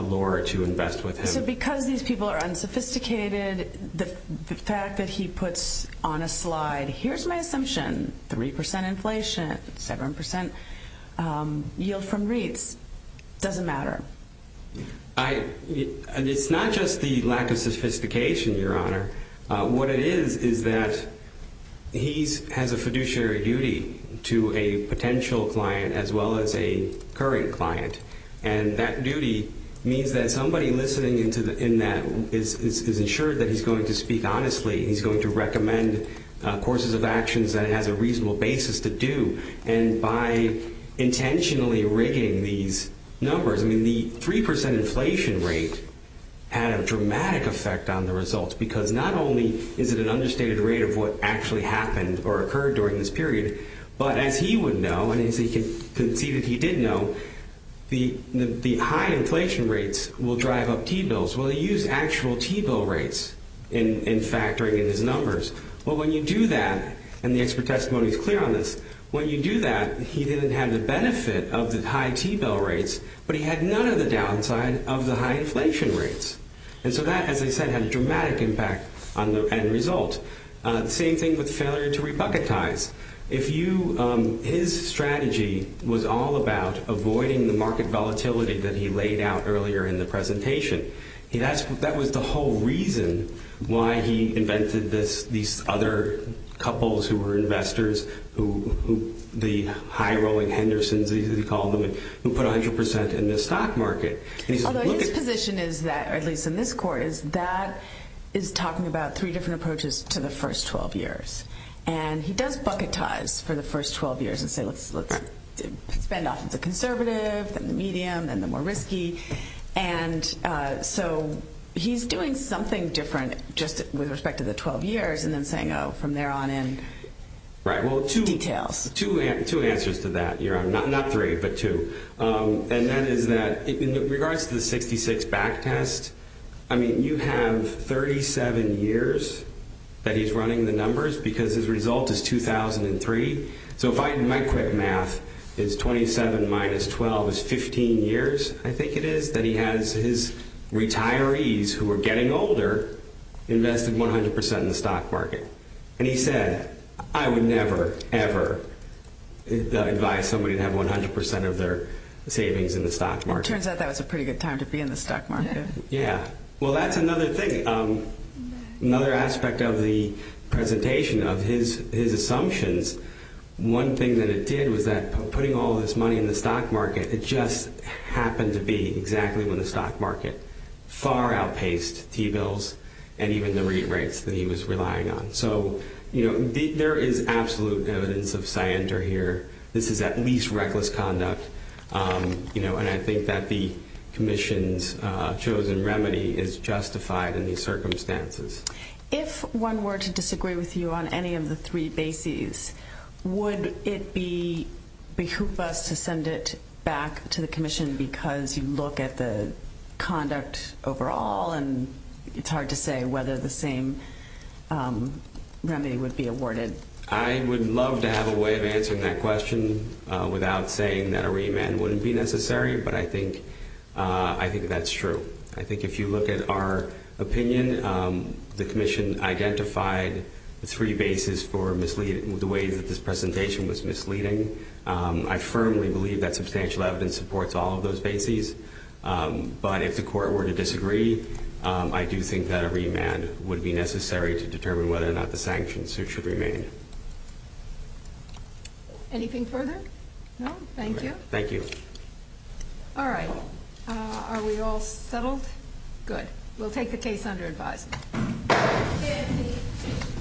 lure to invest with him. So because these people are unsophisticated, the fact that he puts on a slide, here's my assumption, 3% inflation, 7% yield from REITs, doesn't matter. It's not just the lack of sophistication, Your Honor. What it is is that he has a fiduciary duty to a potential client as well as a current client. And that duty means that somebody listening in that is insured that he's going to speak honestly, he's going to recommend courses of actions that have a reasonable basis to do. And by intentionally rigging these numbers, the 3% inflation rate had a dramatic effect on the results because not only is it an understated rate of what actually happened or occurred during this period, but as he would know, as you can see that he did know, the high inflation rates will drive up T-bills. Well, he used actual T-bill rates in factoring in his numbers. Well, when you do that, and the expert testimony is clear on this, when you do that, he didn't have the benefit of the high T-bill rates, but he had none of the downside of the high inflation rates. And so that, as I said, had a dramatic impact on the end result. Same thing with failure to republicanize. His strategy was all about avoiding the market volatility that he laid out earlier in the presentation. That was the whole reason why he invented these other couples who were investors, the high-rolling Hendersons, as he called them, who put 100% in the stock market. Although his position is that, or at least in this course, that is talking about three different approaches to the first 12 years. And he does bucket ties for the first 12 years and say, let's spend off the conservative, then the medium, then the more risky. And so he's doing something different just with respect to the 12 years, and then saying, oh, from there on in. Right. Two details. Two answers to that. Not three, but two. And that is that in regards to the 66 back test, I mean, you have 37 years that he's running the numbers, because his result is 2003. So if I can do that quick math, it's 27 minus 12 is 15 years, I think it is, that he has his retirees who are getting older invested 100% in the stock market. And he said, I would never, ever advise somebody to have 100% of their savings in the stock market. It turns out that was a pretty good time to be in the stock market. Yeah. Well, that's another thing. Another aspect of the presentation of his assumptions, one thing that it did was that putting all this money in the stock market, it just happened to be exactly in the stock market. Far outpaced T-bills and even the REIT rates that he was relying on. So, you know, there is absolute evidence of scienter here. This is at least reckless conduct. You know, and I think that the commission's chosen remedy is justified in these circumstances. If one were to disagree with you on any of the three bases, would it be behoop us to send it back to the commission because you look at the conduct overall and it's hard to say whether the same remedy would be awarded? I would love to have a way of answering that question without saying that a remand wouldn't be necessary, but I think that's true. I think if you look at our opinion, the commission's identified three bases for misleading, the way that this presentation was misleading. I firmly believe that substantial evidence supports all of those bases. But if the court were to disagree, I do think that a remand would be necessary to determine whether or not the sanctions suit should remain. Anything further? No. Thank you. Thank you. All right. Are we all settled? Good. We'll take the case under advice.